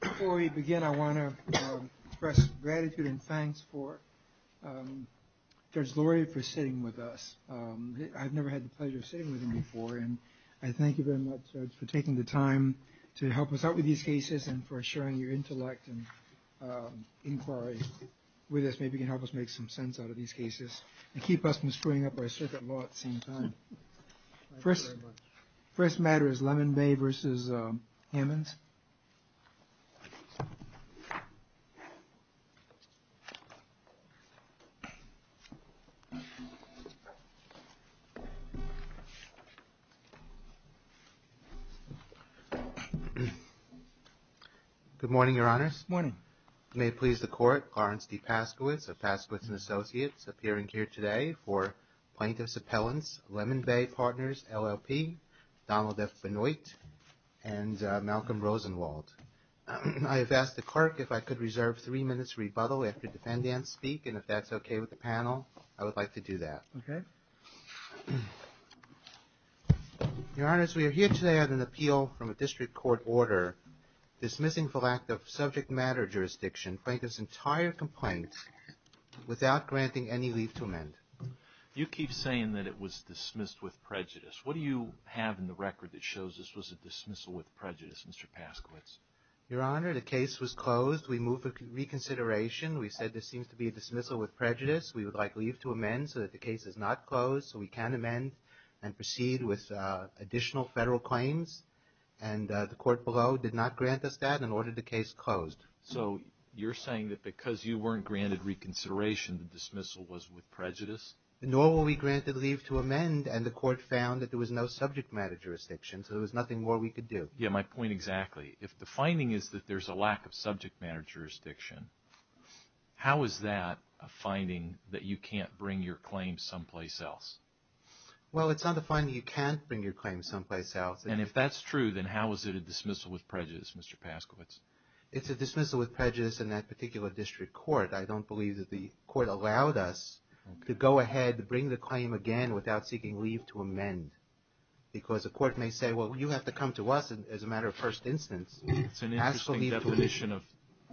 Before we begin, I want to express gratitude and thanks to George Lurie for sitting with us. I've never had the pleasure of sitting with him before. And I thank you very much, George, for taking the time to help us out with these cases and for sharing your intellect and inquiry with us. Maybe you can help us make some sense out of these cases and keep us from screwing up our circuit law at the same time. The first matter is Lemon Bay v. Hammonds. Good morning, Your Honors. Good morning. It may please the Court, Clarence P. Paschewitz of Paschewitz & Associates appearing here today for plaintiff's appellants, Lemon Bay Partners, LLP, Donald F. Benoit, and Malcolm Rosenwald. I have asked the Court if I could reserve three minutes for rebuttal after the defendants speak, and if that's okay with the panel, I would like to do that. Okay. Your Honors, we are here today on an appeal from a district court order dismissing the lack of subject matter jurisdiction for this entire complaint without granting any leave to amend. You keep saying that it was dismissed with prejudice. What do you have in the record that shows this was a dismissal with prejudice, Mr. Paschewitz? Your Honor, the case was closed. We moved for reconsideration. We said this seems to be a dismissal with prejudice. We would like leave to amend so that the case is not closed so we can amend and proceed with additional federal claims. And the court below did not grant us that, and ordered the case closed. So you're saying that because you weren't granted reconsideration, the dismissal was with prejudice? Nor were we granted leave to amend, and the court found that there was no subject matter jurisdiction, so there was nothing more we could do. Yeah, my point exactly. If the finding is that there's a lack of subject matter jurisdiction, how is that a finding that you can't bring your claims someplace else? Well, it's not a finding you can't bring your claims someplace else. And if that's true, then how is it a dismissal with prejudice, Mr. Paschewitz? It's a dismissal with prejudice in that particular district court. I don't believe that the court allowed us to go ahead and bring the claim again without seeking leave to amend because the court may say, well, you have to come to us as a matter of first instance. It's an interesting definition of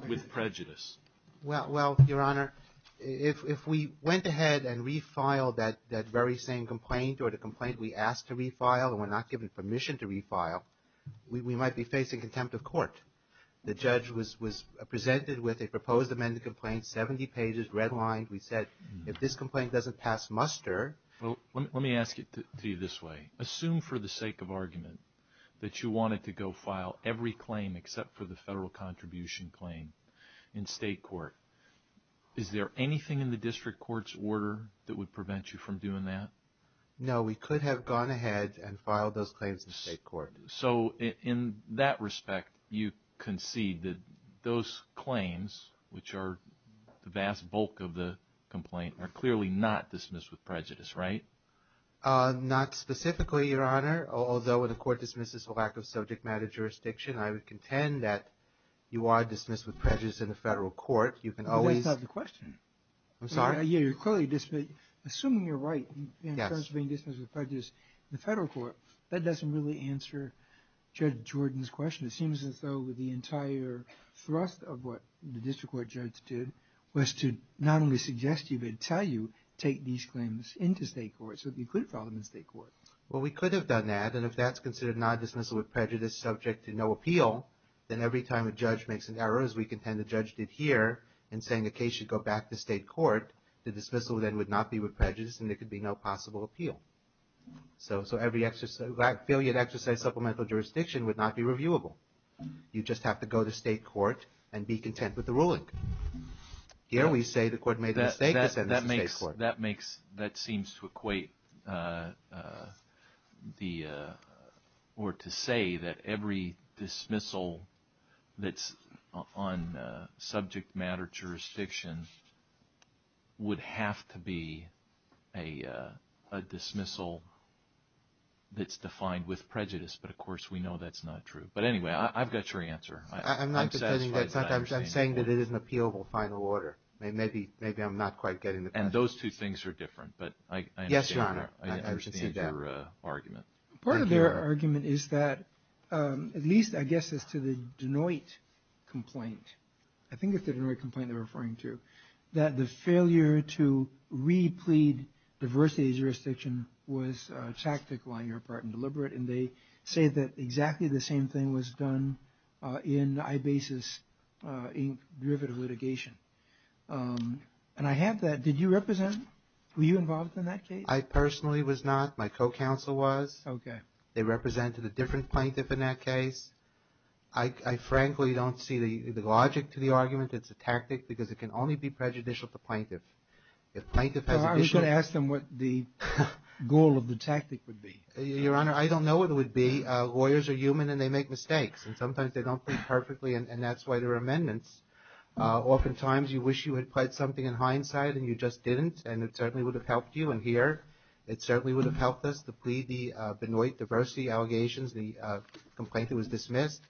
with prejudice. Well, Your Honor, if we went ahead and refiled that very same complaint or the complaint we asked to refile and were not given permission to refile, we might be facing contempt of court. The judge was presented with a proposed amended complaint, 70 pages, redlined. We said if this complaint doesn't pass muster. Let me ask you to view it this way. Assume for the sake of argument that you wanted to go file every claim except for the federal contribution claim in state court. Is there anything in the district court's order that would prevent you from doing that? No, we could have gone ahead and filed those claims in state court. So in that respect, you concede that those claims, which are the vast bulk of the complaint, are clearly not dismissed with prejudice, right? Not specifically, Your Honor, although when a court dismisses a lack of subject matter jurisdiction, I would contend that you are dismissed with prejudice in the federal court. You can always have the question. I'm sorry? Assuming you're right in terms of being dismissed with prejudice in the federal court, that doesn't really answer Judge Jordan's question. It seems as though the entire thrust of what the district court judge did was to not only suggest to you but tell you to take these claims into state court so that you could file them in state court. Well, we could have done that, and if that's considered non-dismissal with prejudice subject to no appeal, then every time a judge makes an error, as we contend the judge did here, in saying a case should go back to state court, the dismissal then would not be with prejudice and there could be no possible appeal. So every filiate exercise supplemental jurisdiction would not be reviewable. You'd just have to go to state court and be content with the ruling. Here we say the court made a mistake. That seems to equate or to say that every dismissal that's on subject matter jurisdictions would have to be a dismissal that's defined with prejudice. But, of course, we know that's not true. But, anyway, I've got your answer. I'm saying that it is an appealable final order. Maybe I'm not quite getting it. And those two things are different. Yes, Your Honor. I understand your argument. Part of their argument is that, at least I guess as to the Denoit complaint, I think it's the Denoit complaint they're referring to, that the failure to re-plead diversity of jurisdiction was tactical on your part and deliberate, and they say that exactly the same thing was done in IBASE's ink derivative litigation. And I have that. Did you represent? Were you involved in that case? I personally was not. My co-counsel was. Okay. They represented a different plaintiff in that case. I frankly don't see the logic to the argument. It's a tactic because it can only be prejudicial to plaintiffs. If plaintiffs had the issue… I should ask them what the goal of the tactic would be. Your Honor, I don't know what it would be. Lawyers are human, and they make mistakes. And sometimes they don't plead perfectly, and that's why there are amendments. Oftentimes you wish you had pledged something in hindsight, and you just didn't, and it certainly would have helped you in here. It certainly would have helped us to plead the Denoit diversity allegations. The complaint was dismissed.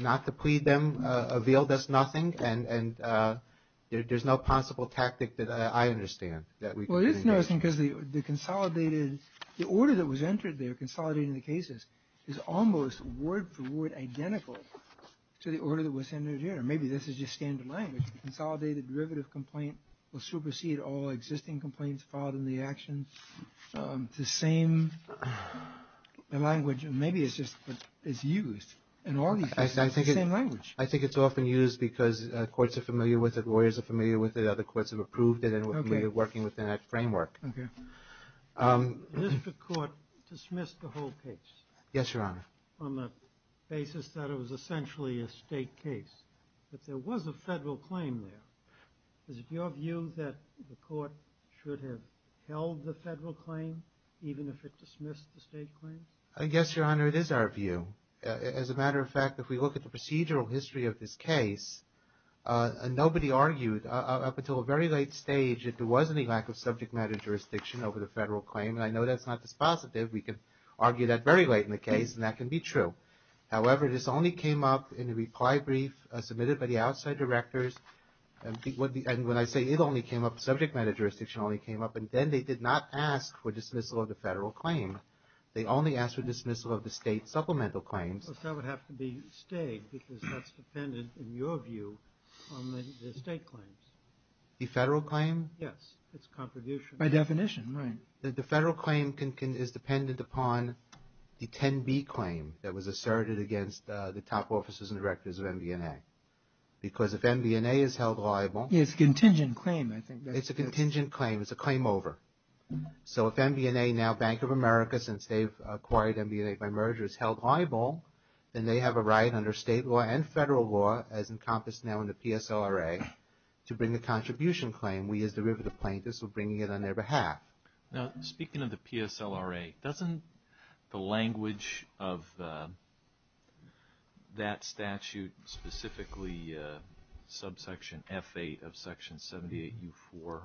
Not to plead them revealed us nothing, and there's no possible tactic that I understand. Well, it is interesting because the order that was entered there, consolidating the cases, is almost word for word identical to the order that was entered here. Maybe this is just standard language. Consolidated derivative complaint will supersede all existing complaints filed in the actions. The same language, maybe it's just that it's used. I think it's often used because courts are familiar with it, lawyers are familiar with it, other courts have approved it, and we're familiar with working within that framework. The district court dismissed the whole case on the basis that it was essentially a state case. But there was a federal claim there. Is it your view that the court should have held the federal claim even if it dismissed the state claim? Yes, Your Honor, it is our view. As a matter of fact, if we look at the procedural history of this case, nobody argued up until a very late stage that there was any lack of subject matter jurisdiction over the federal claim, and I know that's not the positive. We can argue that very late in the case, and that can be true. However, this only came up in the reply brief submitted by the outside directors, and when I say it only came up, subject matter jurisdiction only came up, and then they did not ask for dismissal of the federal claim. They only asked for dismissal of the state supplemental claims. It doesn't have to be state because that's dependent, in your view, on the state claims. The federal claim? Yes, its contribution. By definition, right. The federal claim is dependent upon the 10B claim that was asserted against the top officers and directors of MBNA because if MBNA is held liable. It's a contingent claim, I think. It's a contingent claim. It's a claim over. So if MBNA, now Bank of America, since they've acquired MBNA by merger, is held liable, then they have a right under state law and federal law, as encompassed now in the PSLRA, to bring the contribution claim. We as the Riverton plaintiffs are bringing it on their behalf. Now, speaking of the PSLRA, doesn't the language of that statute, specifically subsection F8 of Section 78U4,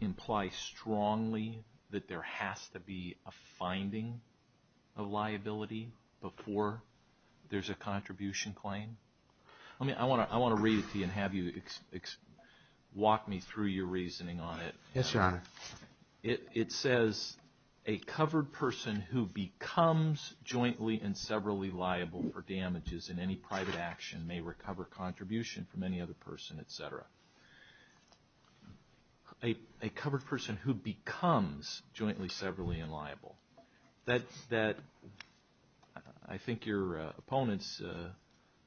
imply strongly that there has to be a finding of liability before there's a contribution claim? I want to read it to you and have you walk me through your reasoning on it. Yes, Your Honor. It says, a covered person who becomes jointly and severally liable for damages in any private action may recover contribution from any other person, et cetera. A covered person who becomes jointly, severally, and liable, that I think your opponents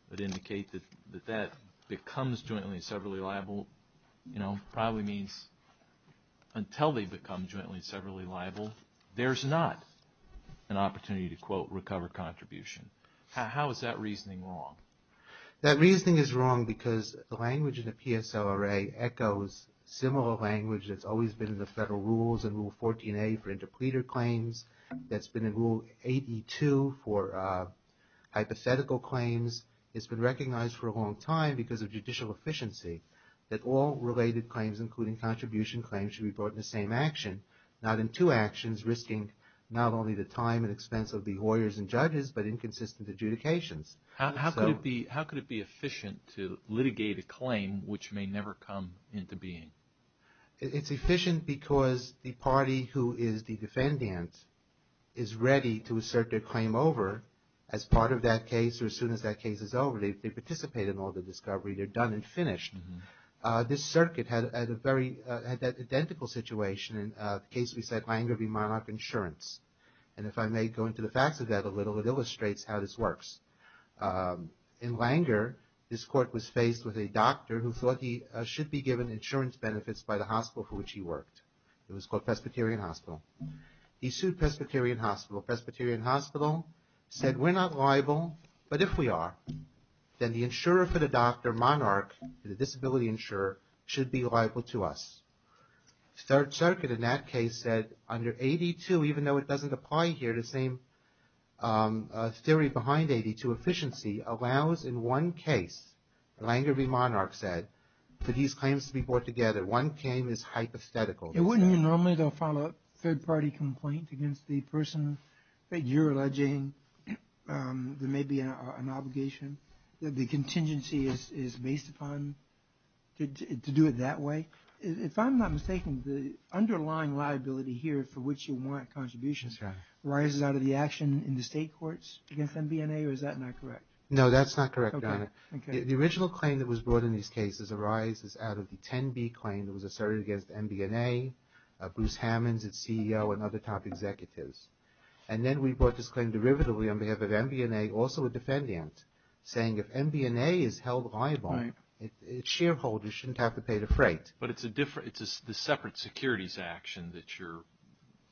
would indicate that that becomes jointly and severally liable, probably means until they become jointly and severally liable, there's not an opportunity to, quote, recover contribution. How is that reasoning wrong? That reasoning is wrong because the language in the PSLRA echoes similar language that's always been in the federal rules, in Rule 14A for interpleader claims, that's been in Rule 82 for hypothetical claims. It's been recognized for a long time because of judicial efficiency. That all related claims, including contribution claims, should be brought in the same action, not in two actions, risking not only the time and expense of the lawyers and judges, but inconsistent adjudications. How could it be efficient to litigate a claim which may never come into being? It's efficient because the party who is the defendant is ready to assert their claim over as part of that case or as soon as that case is over. They participate in all the discovery. They're done and finished. This circuit had a very identical situation in the case we said Langer v. Monarch Insurance. And if I may go into the facts of that a little, it illustrates how this works. In Langer, this court was faced with a doctor who thought he should be given insurance benefits by the hospital for which he worked. It was called Presbyterian Hospital. He sued Presbyterian Hospital. Presbyterian Hospital said we're not liable, but if we are, then the insurer for the doctor, Monarch, the disability insurer, should be liable to us. Start Circuit in that case said under AD2, even though it doesn't apply here, the same theory behind AD2 efficiency allows in one case, Langer v. Monarch said, for these claims to be brought together. One claim is hypothetical. Normally they'll file a third-party complaint against the person that you're alleging there may be an obligation. The contingency is based upon to do it that way. If I'm not mistaken, the underlying liability here for which you want contributions arises out of the action in the state courts against MBNA, or is that not correct? No, that's not correct. The original claim that was brought in these cases arises out of the 10B claim that was asserted against MBNA, Bruce Hammond, its CEO, and other top executives. And then we brought this claim derivatively on behalf of MBNA, also a defendant, saying if MBNA is held liable, its shareholders shouldn't have to pay the freight. But it's a separate securities action that you're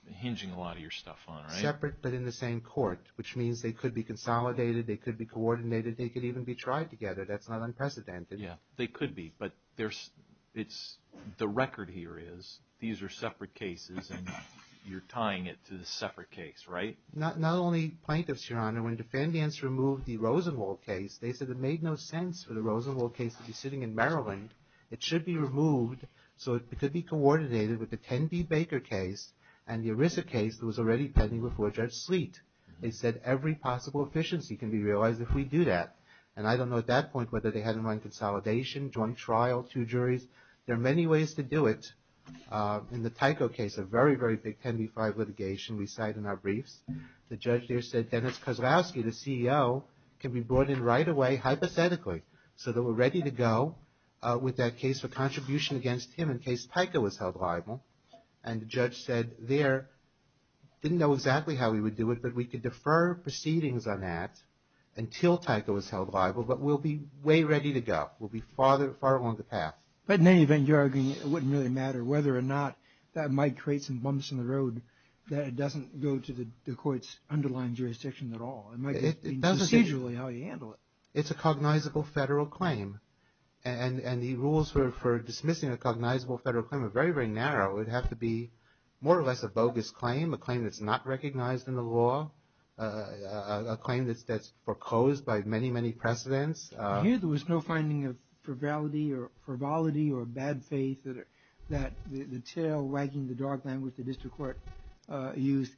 hinging a lot of your stuff on, right? Separate but in the same court, which means they could be consolidated, they could be coordinated, they could even be tried together. That's not unprecedented. They could be, but the record here is these are separate cases and you're tying it to the separate case, right? Not only plaintiffs, Your Honor, when defendants removed the Rosenwald case, they said it made no sense for the Rosenwald case to be sitting in Maryland. It should be removed so it could be coordinated with the 10B Baker case and the ERISA case that was already pending before Judge Sleet. They said every possible efficiency can be realized if we do that. And I don't know at that point whether they had them on consolidation, joint trial, two juries. There are many ways to do it. In the Tyco case, a very, very big 10B-5 litigation we cite in our briefs, the judge there said Dennis Kozlowski, the CEO, can be brought in right away hypothetically so that we're ready to go with that case for contribution against him in case Tyco is held liable. And the judge said there, didn't know exactly how we would do it, but we could defer proceedings on that until Tyco is held liable, but we'll be way ready to go. We'll be far along the path. But in any event, Your Honor, it wouldn't really matter whether or not that might create some bumps in the road that it doesn't go to the court's underlying jurisdiction at all. It might just be procedurally how you handle it. It's a cognizable federal claim. And the rules for dismissing a cognizable federal claim are very, very narrow. It would have to be more or less a bogus claim, a claim that's not recognized in the law, a claim that's foreclosed by many, many precedents. I hear there was no finding of frivolity or bad faith that the tail wagging the dog language the district court used.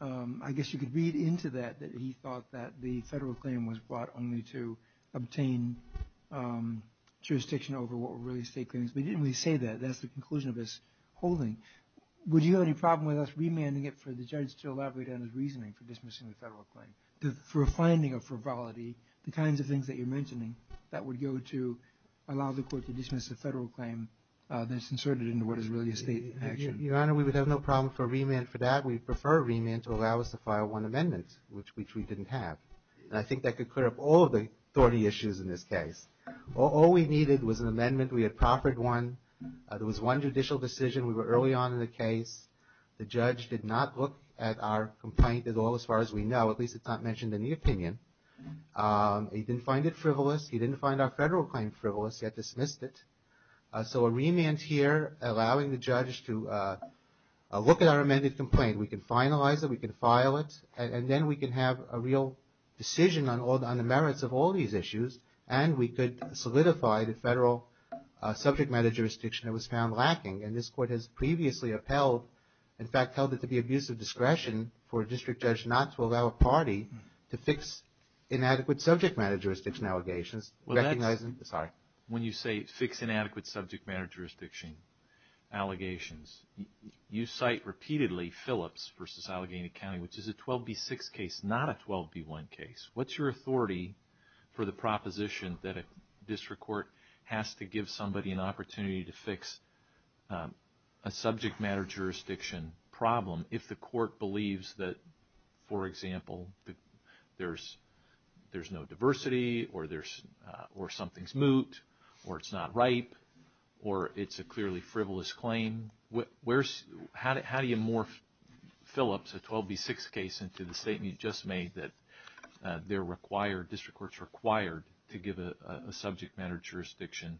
I guess you could read into that that he thought that the federal claim was brought only to obtain jurisdiction over what were really state claims. We didn't really say that. That's the conclusion of this holding. Would you have any problem with us remanding it for the judge to elaborate on his reasoning for dismissing the federal claim? For a finding of frivolity, the kinds of things that you're mentioning, that would go to allow the court to dismiss a federal claim that's inserted into what is really a state action. Your Honor, we would have no problem for a remand for that. We'd prefer a remand to allow us to file one amendment, which we didn't have. And I think that could clear up all of the authority issues in this case. All we needed was an amendment. We had proffered one. There was one judicial decision. We were early on in the case. The judge did not look at our complaint at all, as far as we know. At least it's not mentioned in the opinion. He didn't find it frivolous. He didn't find our federal claim frivolous. He had dismissed it. So a remand here allowing the judge to look at our amended complaint. We can finalize it. We can file it. And then we can have a real decision on the merits of all these issues. And we could solidify the federal subject matter jurisdiction that was found lacking. And this Court has previously upheld, in fact, held it to be abusive discretion for a district judge not to allow a party to fix inadequate subject matter jurisdiction allegations. When you say fix inadequate subject matter jurisdiction allegations, you cite repeatedly Phillips v. Allegheny County, which is a 12B6 case, not a 12B1 case. What's your authority for the proposition that a district court has to give somebody an opportunity to fix a subject matter jurisdiction problem if the court believes that, for example, there's no diversity or something's moot or it's not right or it's a clearly frivolous claim? How do you morph Phillips, a 12B6 case, into the statement you just made that district courts are required to give a subject matter jurisdiction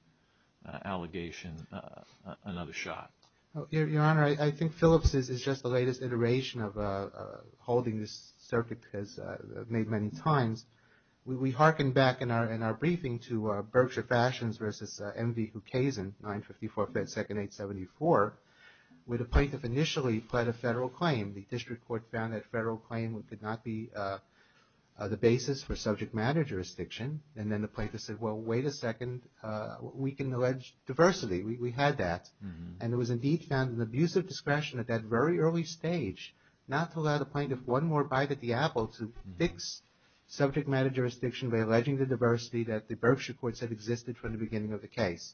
allegation another shot? Your Honor, I think Phillips is just the latest iteration of holding this circuit as made many times. We harken back in our briefing to Berkshire Fashions v. M.D. Cucasin, 954-528-74, where the plaintiff initially pled a federal claim. The district court found that federal claim could not be the basis for subject matter jurisdiction. And then the plaintiff said, well, wait a second. We can allege diversity. We had that. And it was indeed found an abusive discretion at that very early stage not to allow the plaintiff one more bite at the apple to fix subject matter jurisdiction by alleging the diversity that the Berkshire courts had existed from the beginning of the case.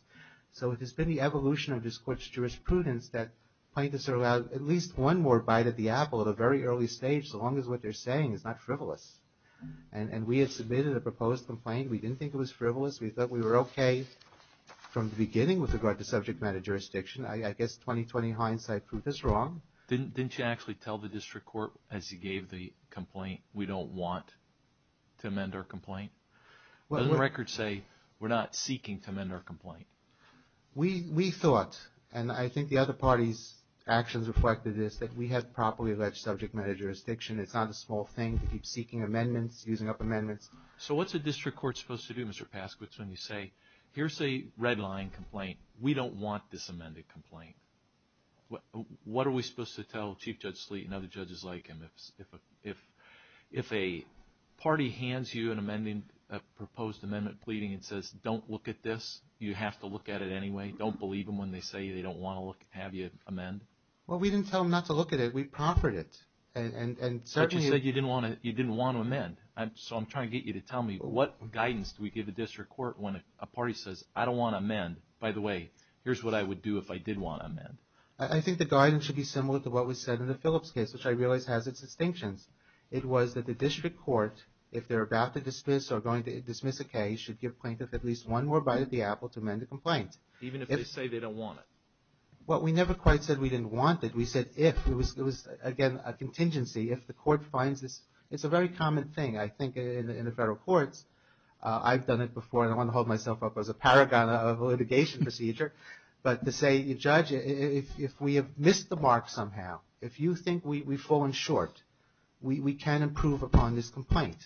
So it has been the evolution of this court's jurisprudence that plaintiffs are allowed at least one more bite at the apple at a very early stage so long as what they're saying is not frivolous. And we had submitted a proposed complaint. We didn't think it was frivolous. We thought we were okay from the beginning with regard to subject matter jurisdiction. I guess 20-20 hindsight proved us wrong. Didn't you actually tell the district court, as you gave the complaint, we don't want to amend our complaint? Doesn't the record say we're not seeking to amend our complaint? We thought, and I think the other party's actions reflected this, that we had properly alleged subject matter jurisdiction. It's not a small thing to keep seeking amendments, using up amendments. So what's the district court supposed to do, Mr. Paskowitz, when you say, here's a red-line complaint. We don't want this amended complaint. What are we supposed to tell Chief Judge Sleet and other judges like him? If a party hands you a proposed amendment pleading and says, don't look at this, you have to look at it anyway, don't believe them when they say they don't want to have you amend? Well, we didn't tell them not to look at it. We proffered it. But you said you didn't want to amend. So I'm trying to get you to tell me what guidance do we give the district court when a party says, I don't want to amend. You said, by the way, here's what I would do if I did want to amend. I think the guidance should be similar to what we said in the Phillips case, which I realize has its distinctions. It was that the district court, if they're about to dismiss or going to dismiss a case, should give plaintiffs at least one more bite at the apple to amend the complaint. Even if they say they don't want it? Well, we never quite said we didn't want it. We said if. It was, again, a contingency. If the court finds this, it's a very common thing, I think, in the federal court. I've done it before, and I want to hold myself up as a paragon of a litigation procedure. But to say, Judge, if we have missed the mark somehow, if you think we've fallen short, we can improve upon this complaint.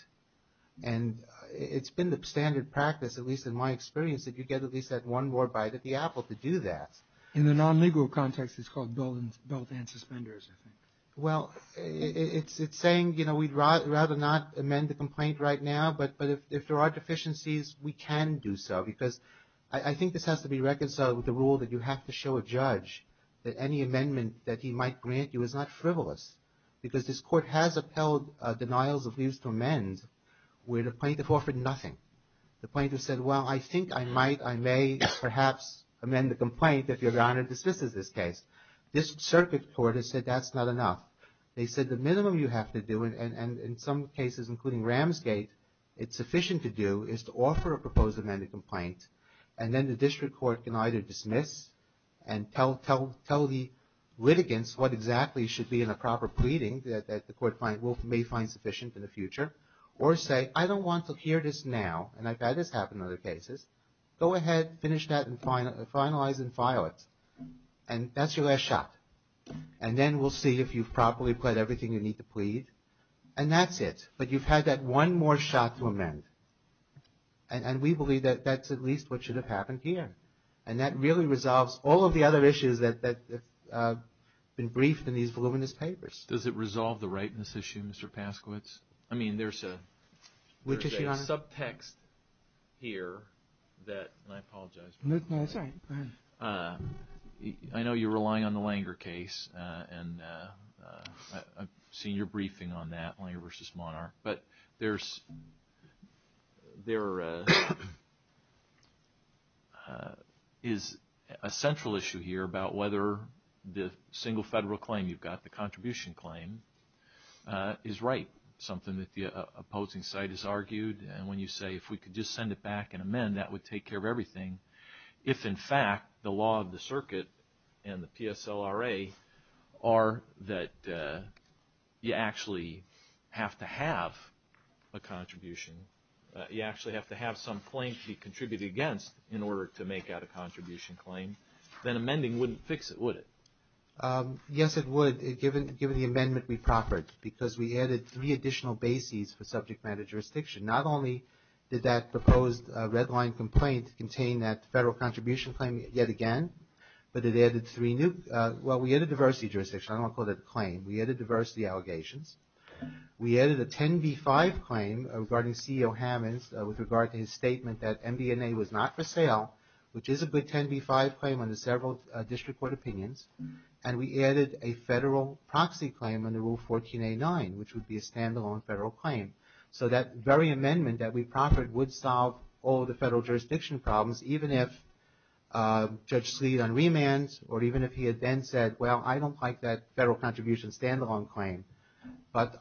And it's been the standard practice, at least in my experience, that you get at least that one more bite at the apple to do that. In the non-legal context, it's called building suspenders, I think. Well, it's saying, you know, we'd rather not amend the complaint right now, but if there are deficiencies, we can do so. Because I think this has to be reconciled with the rule that you have to show a judge that any amendment that he might grant you is not frivolous. Because this court has upheld denials of use for amends where the plaintiff offered nothing. The plaintiff said, well, I think I might, I may perhaps amend the complaint if Your Honor desists of this case. This circuit court has said that's not enough. They said the minimum you have to do, and in some cases, including Ramsgate, it's sufficient to do is to offer a proposal to amend the complaint, and then the district court can either dismiss and tell the litigants what exactly should be in a proper pleading, as the court may find sufficient in the future, or say, I don't want to hear this now, and I've had this happen in other cases. Go ahead, finish that, and finalize and file it. And that's your last shot. And then we'll see if you've properly pled everything you need to plead, and that's it. But you've had that one more shot to amend, and we believe that that's at least what should have happened here. And that really resolves all of the other issues that have been briefed in these voluminous papers. Does it resolve the rightness issue, Mr. Paskowitz? I mean, there's a subtext here that, and I apologize. No, it's all right. I know you're relying on the Langer case, and I've seen your briefing on that, Langer v. Monar. But there is a central issue here about whether the single federal claim you've got, the contribution claim, is right, something that the opposing side has argued. And when you say, if we could just send it back and amend, that would take care of everything. If, in fact, the law of the circuit and the PSLRA are that you actually have to have a contribution, you actually have to have some claim to be contributed against in order to make out a contribution claim, then amending wouldn't fix it, would it? Yes, it would, given the amendment we proffered, because we added three additional bases for subject matter jurisdiction. Not only did that proposed red line complaint contain that federal contribution claim yet again, but it added three new – well, we added diversity jurisdiction. I don't want to call it a claim. We added diversity allegations. We added a 10b-5 claim regarding C.O. Hammons with regard to his statement that MBNA was not for sale, which is a good 10b-5 claim under several district court opinions. And we added a federal proxy claim under Rule 14a-9, which would be a stand-alone federal claim. So that very amendment that we proffered would solve all the federal jurisdiction problems, even if Judge Seedon remands or even if he had then said, well, I don't like that federal contribution stand-alone claim, but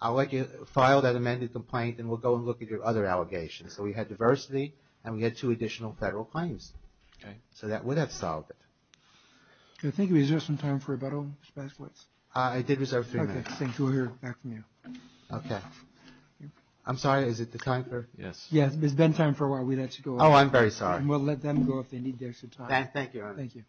I'll let you file that amended complaint and we'll go and look at your other allegations. So we had diversity and we had two additional federal claims. So that would have solved it. I think we deserve some time for rebuttal, Mr. Baskowitz. I did deserve a few minutes. Okay, thank you. We'll hear back from you. Okay. I'm sorry, is it the time, sir? Yes. Yeah, there's been time for a while. We let you go. Oh, I'm very sorry. We'll let them go if they need their time. Thank you. Thank you.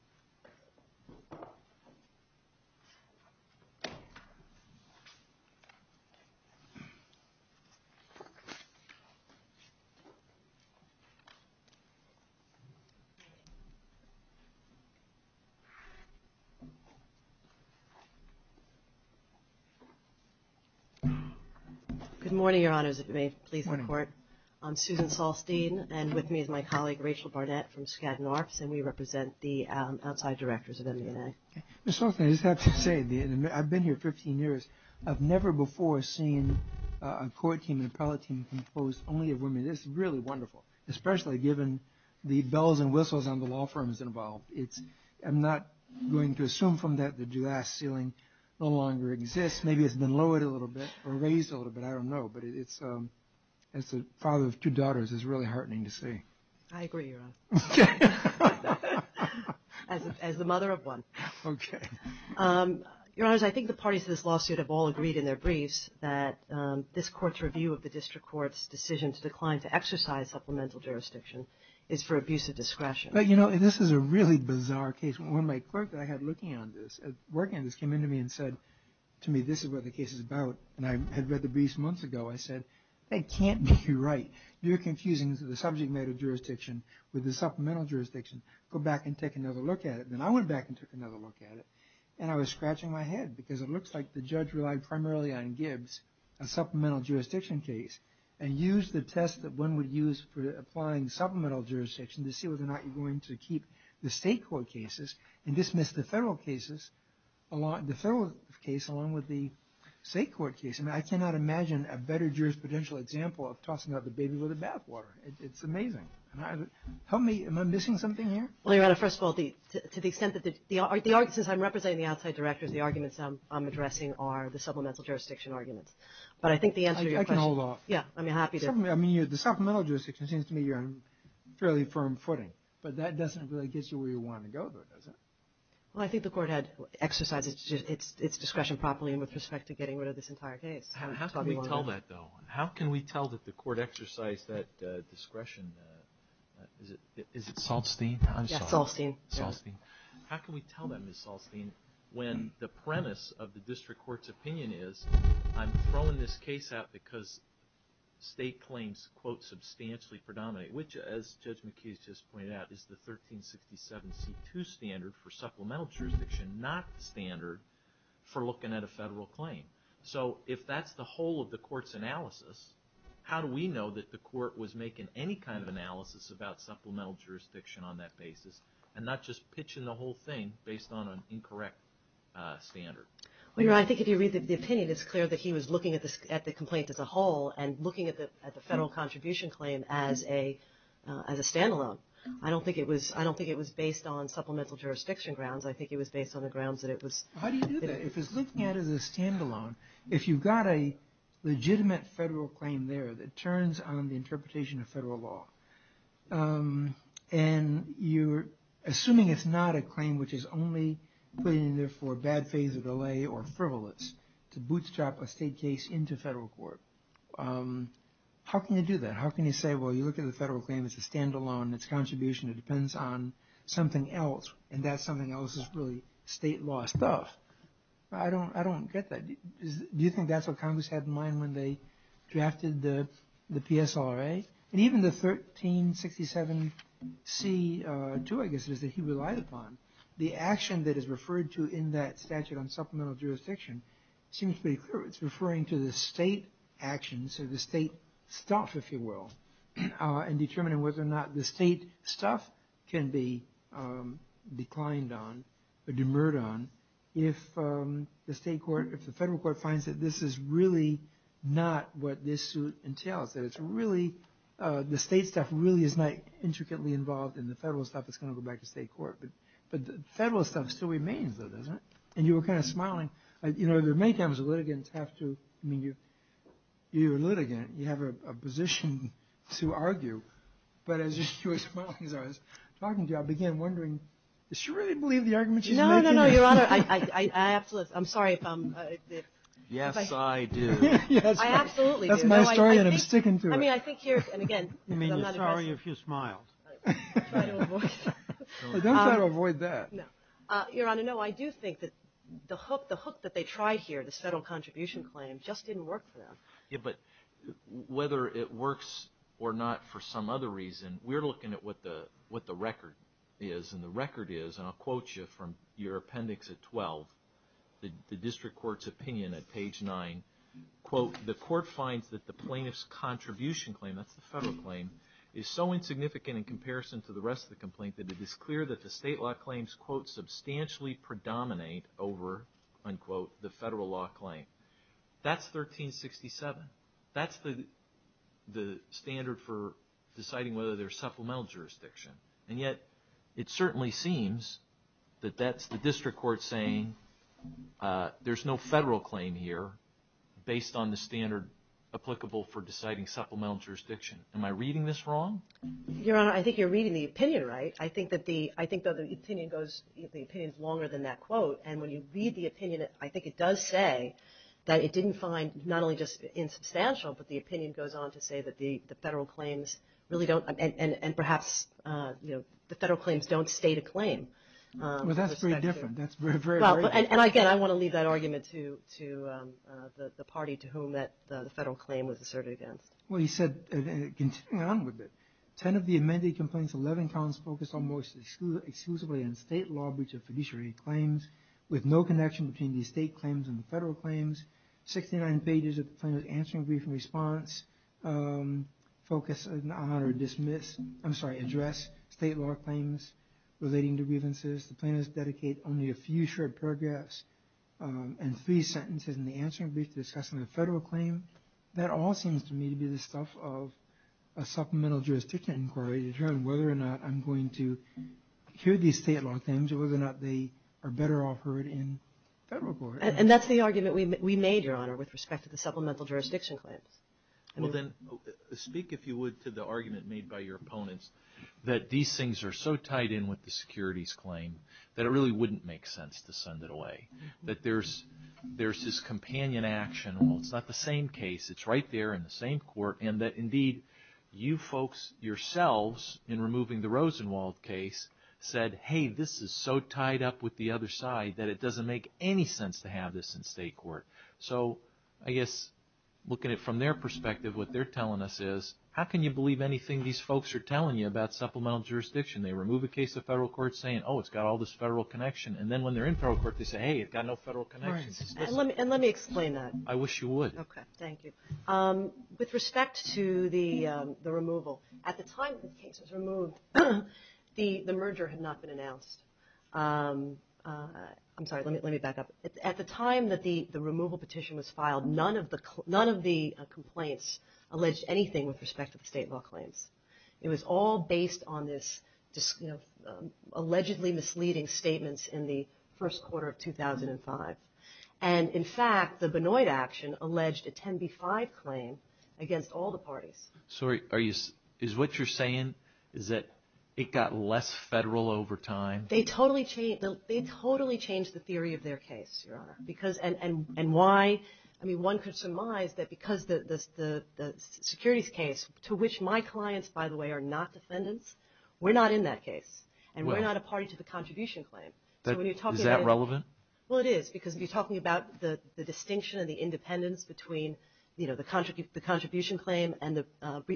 Good morning, Your Honors. If you may please report. I'm Susan Solstein and with me is my colleague, Rachel Barnett from Skadden Arts, and we represent the outside directors of MUNA. Ms. Solstein, I just have to say, I've been here 15 years. I've never before seen a court team, an appellate team, composed only of women. This is really wonderful, especially given the bells and whistles on the law firms involved. I'm not going to assume from that the glass ceiling no longer exists. Maybe it's been lowered a little bit or raised a little bit, I don't know, but as the father of two daughters, it's really heartening to see. I agree, Your Honor. As the mother of one. Okay. Your Honors, I think the parties to this lawsuit have all agreed in their briefs that this court's review of the district court's decision to decline to exercise supplemental jurisdiction is for abuse of discretion. But, you know, this is a really bizarre case. One of my clerks I had working on this came in to me and said to me, this is what the case is about, and I had read the briefs months ago. I said, that can't be right. You're confusing the subject matter jurisdiction with the supplemental jurisdiction. Go back and take another look at it. And I went back and took another look at it, and I was scratching my head because it looks like the judge relied primarily on Gibbs, a supplemental jurisdiction case, and used the test that one would use for applying supplemental jurisdiction to see whether or not you're going to keep the state court cases and dismiss the federal cases along with the state court case. And I cannot imagine a better jurisprudential example of tossing out the baby with the bathwater. It's amazing. Help me. Am I missing something here? Well, Your Honor, first of all, to the extent that the arguments I'm representing, the outside directors, the arguments I'm addressing are the supplemental jurisdiction arguments. But I think the answer to your question. I can hold off. Yeah, I'm happy to. I mean, the supplemental jurisdiction seems to me you're on fairly firm footing. But that doesn't really get you where you want to go, does it? Well, I think the court had exercised its discretion properly with respect to getting rid of this entire case. How can we tell that, though? How can we tell that the court exercised that discretion? Is it Salstein? Yeah, Salstein. Salstein. How can we tell that, Ms. Salstein, when the premise of the district court's opinion is, I'm throwing this case out because state claims, quote, substantially predominate, which, as Judge McKee has just pointed out, is the 1367C2 standard for supplemental jurisdiction, not the standard for looking at a federal claim. So if that's the whole of the court's analysis, how do we know that the court was making any kind of analysis about supplemental jurisdiction on that basis and not just pitching the whole thing based on an incorrect standard? Well, Your Honor, I think if you read the opinion, it's clear that he was looking at the complaint as a whole and looking at the federal contribution claim as a standalone. I don't think it was based on supplemental jurisdiction grounds. I think it was based on the grounds that it was... How do you do that? If it's looking at it as a standalone, if you've got a legitimate federal claim there that turns on the interpretation of federal law and you're assuming it's not a claim which is only put in there for a bad phase of delay or frivolous to bootstrap a state case into federal court, how can you do that? How can you say, well, you look at the federal claim as a standalone, it's a contribution that depends on something else, and that something else is really state law stuff? I don't get that. Do you think that's what Congress had in mind when they drafted the PSRA? Even the 1367C2, I guess, that he relied upon, the action that is referred to in that statute on supplemental jurisdiction, it seems pretty clear it's referring to the state actions, to the state stuff, if you will, and determining whether or not the state stuff can be declined on or demurred on if the federal court finds that this is really not what this suit entails, that the state stuff really is not intricately involved in the federal stuff that's going to go back to state court. But the federal stuff still remains, though, doesn't it? And you were kind of smiling. You know, there are many times a litigant has to – I mean, you're a litigant, you have a position to argue, but as you were smiling, I was talking to you, I began wondering, do you really believe the argument she's making? No, no, no, Your Honor, I absolutely – I'm sorry. Yes, I do. I absolutely do. I'm sorry, and I'm sticking to it. I mean, I think here – and, again, I'm not – You mean you're sorry if you smiled. I don't avoid that. Well, don't try to avoid that. No. Your Honor, no, I do think that the hook that they tried here, the federal contribution claim, just didn't work for them. Yeah, but whether it works or not for some other reason, we're looking at what the record is, and the record is, and I'll quote you from your appendix at 12, the district court's opinion at page 9, quote, the court finds that the plaintiff's contribution claim, that's the federal claim, is so insignificant in comparison to the rest of the complaint that it is clear that the state law claims, quote, substantially predominate over, unquote, the federal law claim. That's 1367. That's the standard for deciding whether there's supplemental jurisdiction, and yet it certainly seems that that's the district court saying there's no federal claim here, based on the standard applicable for deciding supplemental jurisdiction. Am I reading this wrong? Your Honor, I think you're reading the opinion right. I think that the opinion is longer than that quote, and when you read the opinion, I think it does say that it didn't find not only just insubstantial, but the opinion goes on to say that the federal claims really don't, and perhaps the federal claims don't state a claim. Well, that's very different. And again, I want to leave that argument to the party to whom the federal claim was asserted again. Well, you said, continue on with it. Ten of the amended complaints, 11 counts, focus on most exclusively on state law breach of fiduciary claims with no connection between the state claims and the federal claims. Sixty-nine pages of the plaintiff's answering brief and response address state law claims relating to grievances. The plaintiff's dedicate only a few short paragraphs and three sentences in the answering brief discussing the federal claim. That all seems to me to be the stuff of a supplemental jurisdiction inquiry to determine whether or not I'm going to hear these state law claims or whether or not they are better off heard in federal court. And that's the argument we made, Your Honor, with respect to the supplemental jurisdiction claim. Well, then speak, if you would, to the argument made by your opponents that these things are so tied in with the securities claim that it really wouldn't make sense to send it away. That there's this companion action. Well, it's not the same case. It's right there in the same court. And that, indeed, you folks yourselves in removing the Rosenwald case said, hey, this is so tied up with the other side that it doesn't make any sense to have this in state court. So I guess looking at it from their perspective, what they're telling us is, how can you believe anything these folks are telling you about supplemental jurisdiction? They remove a case to federal court saying, oh, it's got all this federal connection. And then when they're in federal court, they say, hey, it's got no federal connection. And let me explain that. I wish you would. Okay, thank you. With respect to the removal, at the time the case was removed, the merger had not been announced. I'm sorry, let me back up. At the time that the removal petition was filed, none of the complaints alleged anything with respect to the state law claims. It was all based on this allegedly misleading statement in the first quarter of 2005. And, in fact, the Benoit action alleged a 10b-5 claim against all the parties. Sorry, is what you're saying is that it got less federal over time? They totally changed the theory of their case. And why? I mean, one could surmise that because the securities case, to which my clients, by the way, are not descendants, we're not in that case. And we're not a party to the contribution claim. Is that relevant? Well, it is, because you're talking about the distinction and the independence between the contribution claim and the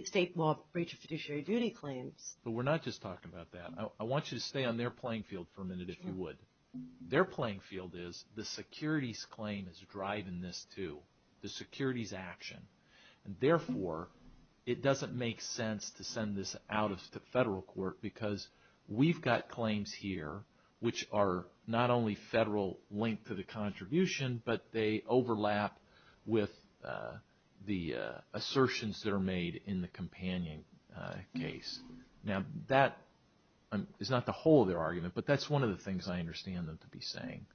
state law breach of fiduciary duty claim. But we're not just talking about that. I want you to stay on their playing field for a minute, if you would. Their playing field is the securities claim is driving this too, the securities action. Therefore, it doesn't make sense to send this out to federal court because we've got claims here which are not only federal linked to the contribution, but they overlap with the assertions that are made in the companion case. Now, that is not the whole of their argument, but that's one of the things I understand them to be saying.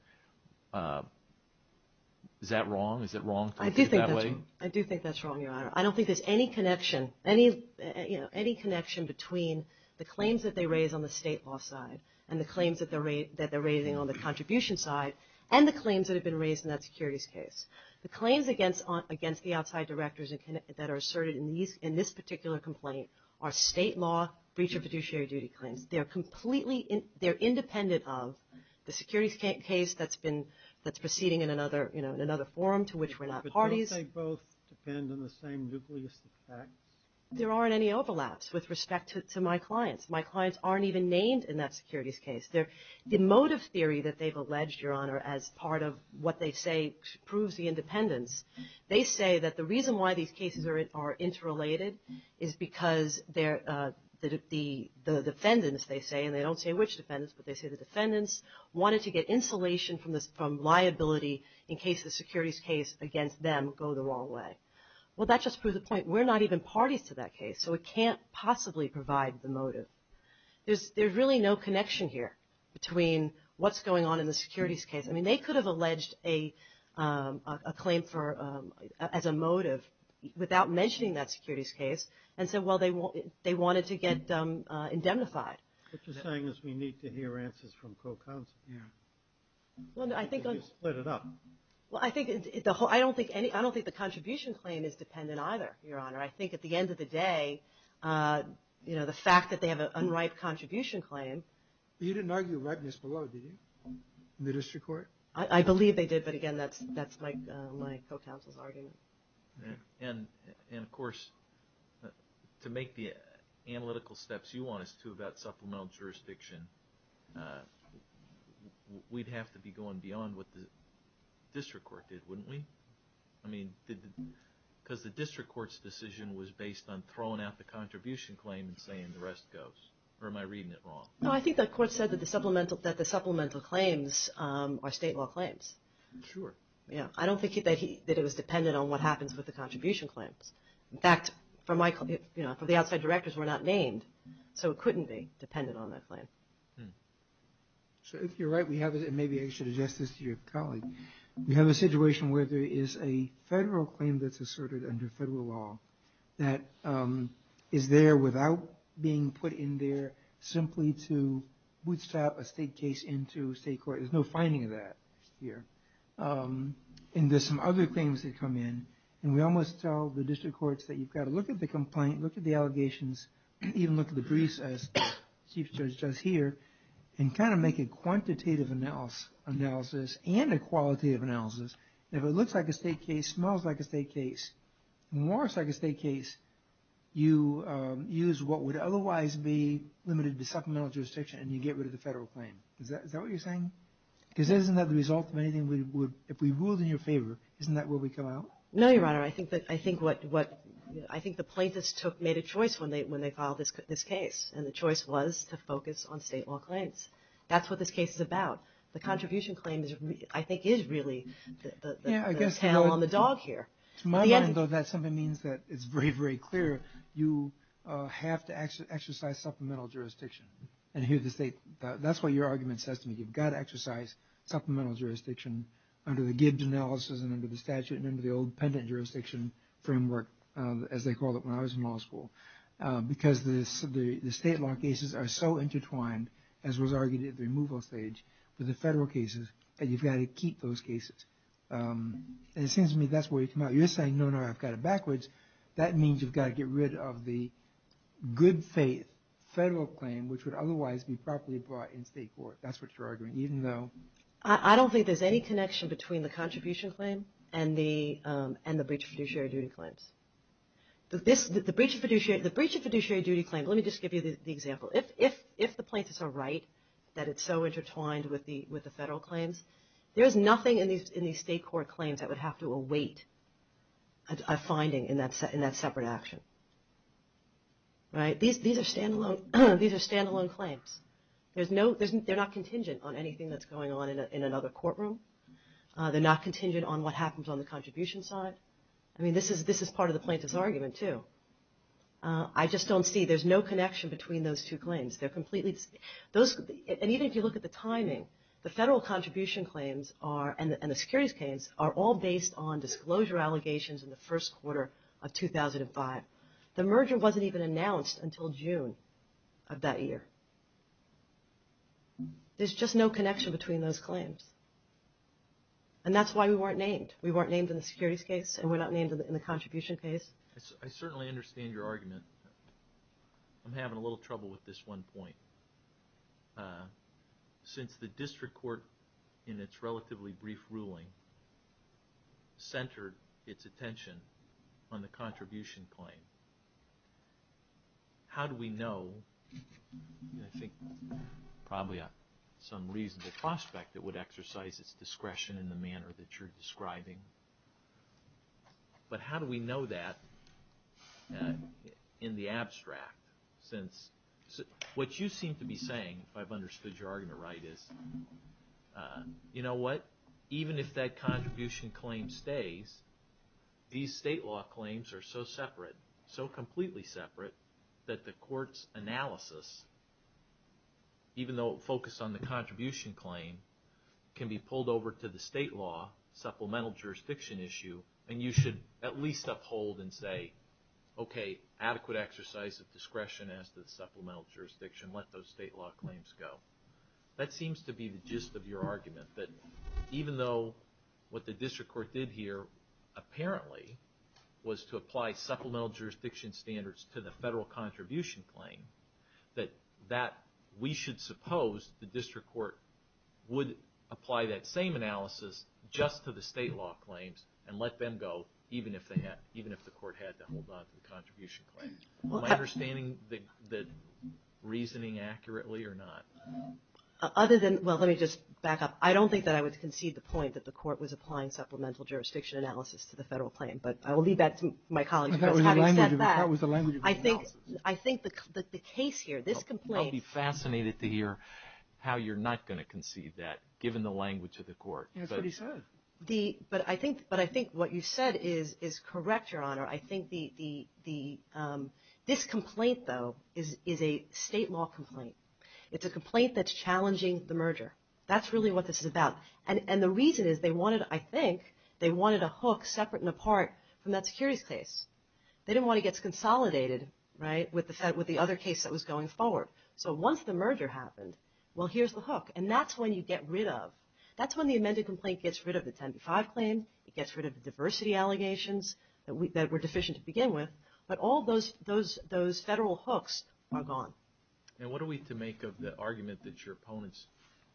Is that wrong? I do think that's wrong, Your Honor. I don't think there's any connection between the claims that they raise on the state law side and the claims that they're raising on the contribution side and the claims that have been raised in that securities case. The claims against the outside directors that are asserted in this particular complaint are state law breach of fiduciary duty claims. They're independent of the securities case that's proceeding in another forum to which we're not parties. But don't they both depend on the same nucleus of fact? There aren't any overlaps with respect to my clients. My clients aren't even named in that securities case. The motive theory that they've alleged, Your Honor, as part of what they say proves the independence, they say that the reason why these cases are interrelated is because the defendants, they say, and they don't say which defendants, but they say the defendants, wanted to get insulation from liability in case the securities case against them go the wrong way. Well, that just proves the point. We're not even parties to that case, so it can't possibly provide the motive. There's really no connection here between what's going on in the securities case. I mean, they could have alleged a claim as a motive without mentioning that securities case and said, well, they wanted to get them indemnified. It's the same as we need to hear answers from pro-conspiracy. Well, I don't think the contribution claim is dependent either, Your Honor. I think at the end of the day, the fact that they have an unright contribution claim – But you didn't argue rightness below, did you, in the district court? I believe they did, but again, that's my co-counsel's argument. And, of course, to make the analytical steps you want us to about supplemental jurisdiction, we'd have to be going beyond what the district court did, wouldn't we? I mean, because the district court's decision was based on throwing out the contribution claim and saying the rest goes. Or am I reading it wrong? No, I think the court said that the supplemental claims are state law claims. Sure. I don't think that it was dependent on what happens with the contribution claim. In fact, for the outside directors, we're not named, so it couldn't be dependent on that claim. So if you're right, and maybe I should address this to your colleague, we have a situation where there is a federal claim that's asserted under federal law that is there without being put in there simply to bootstrap a state case into state court. There's no finding of that here. And there's some other things that come in. And we almost tell the district courts that you've got to look at the complaint, look at the allegations, even look at the briefs as Chief Judge does here, and kind of make a quantitative analysis and a qualitative analysis. If it looks like a state case, smells like a state case, works like a state case, you use what would otherwise be limited to supplemental jurisdiction, and you get rid of the federal claim. Is that what you're saying? Because if we ruled in your favor, isn't that where we come out? No, Your Honor. I think the plaintiffs made a choice when they filed this case. And the choice was to focus on state law claims. That's what this case is about. The contribution claim, I think, is really the tail on the dog here. To my mind, though, that something means that it's very, very clear. You have to exercise supplemental jurisdiction. That's what your argument says to me. You've got to exercise supplemental jurisdiction under the Gibbs analysis and under the statute and under the old pendant jurisdiction framework, as they called it when I was in law school. Because the state law cases are so intertwined, as was argued at the removal stage, with the federal cases, and you've got to keep those cases. And it seems to me that's where you come out. You're saying, no, no, I've got it backwards. That means you've got to get rid of the good faith federal claim, which would otherwise be properly brought in state court. That's what you're arguing, even though… I don't think there's any connection between the contribution claim and the breach of fiduciary duty claims. The breach of fiduciary duty claim, let me just give you the example. If the plaintiffs are right that it's so intertwined with the federal claims, there's nothing in these state court claims that would have to await a finding in that separate action. These are standalone claims. They're not contingent on anything that's going on in another courtroom. They're not contingent on what happens on the contribution side. I mean, this is part of the plaintiff's argument, too. I just don't see, there's no connection between those two claims. And even if you look at the timing, the federal contribution claims and the securities claims are all based on disclosure allegations in the first quarter of 2005. The merger wasn't even announced until June of that year. There's just no connection between those claims. And that's why we weren't named. We weren't named in the securities case, and we're not named in the contribution case. I certainly understand your argument. I'm having a little trouble with this one point. Since the district court, in its relatively brief ruling, centered its attention on the contribution claim, how do we know – and I think probably for some reason the prospect that would exercise its discretion in the manner that you're describing. But how do we know that in the abstract since what you seem to be saying, if I've understood your argument right, is you know what? Even if that contribution claim stays, these state law claims are so separate, so completely separate, that the court's analysis, even though it focused on the contribution claim, can be pulled over to the state law supplemental jurisdiction issue. And you should at least uphold and say, okay, adequate exercise of discretion as to the supplemental jurisdiction. Let those state law claims go. That seems to be the gist of your argument, that even though what the district court did here apparently was to apply supplemental jurisdiction standards to the federal contribution claim, that we should suppose the district court would apply that same analysis just to the state law claims and let them go, even if the court had to hold on to the contribution claims. Am I understanding the reasoning accurately or not? Other than – well, let me just back up. I don't think that I would concede the point that the court was applying supplemental jurisdiction analysis to the federal claim, but I will leave that to my colleagues. That was the language of the court. I think that the case here, this complaint – I'll be fascinated to hear how you're not going to concede that, given the language of the court. That's what he said. But I think what you said is correct, Your Honor. I think this complaint, though, is a state law complaint. It's a complaint that's challenging the merger. That's really what this is about. And the reason is they wanted – I think they wanted a hook separate and apart from that securities case. They didn't want to get consolidated with the other case that was going forward. So once the merger happened, well, here's the hook. And that's when you get rid of – that's when the amended complaint gets rid of the 10 to 5 claim. It gets rid of the diversity allegations that were deficient to begin with. But all those federal hooks are gone. And what are we to make of the argument that your opponents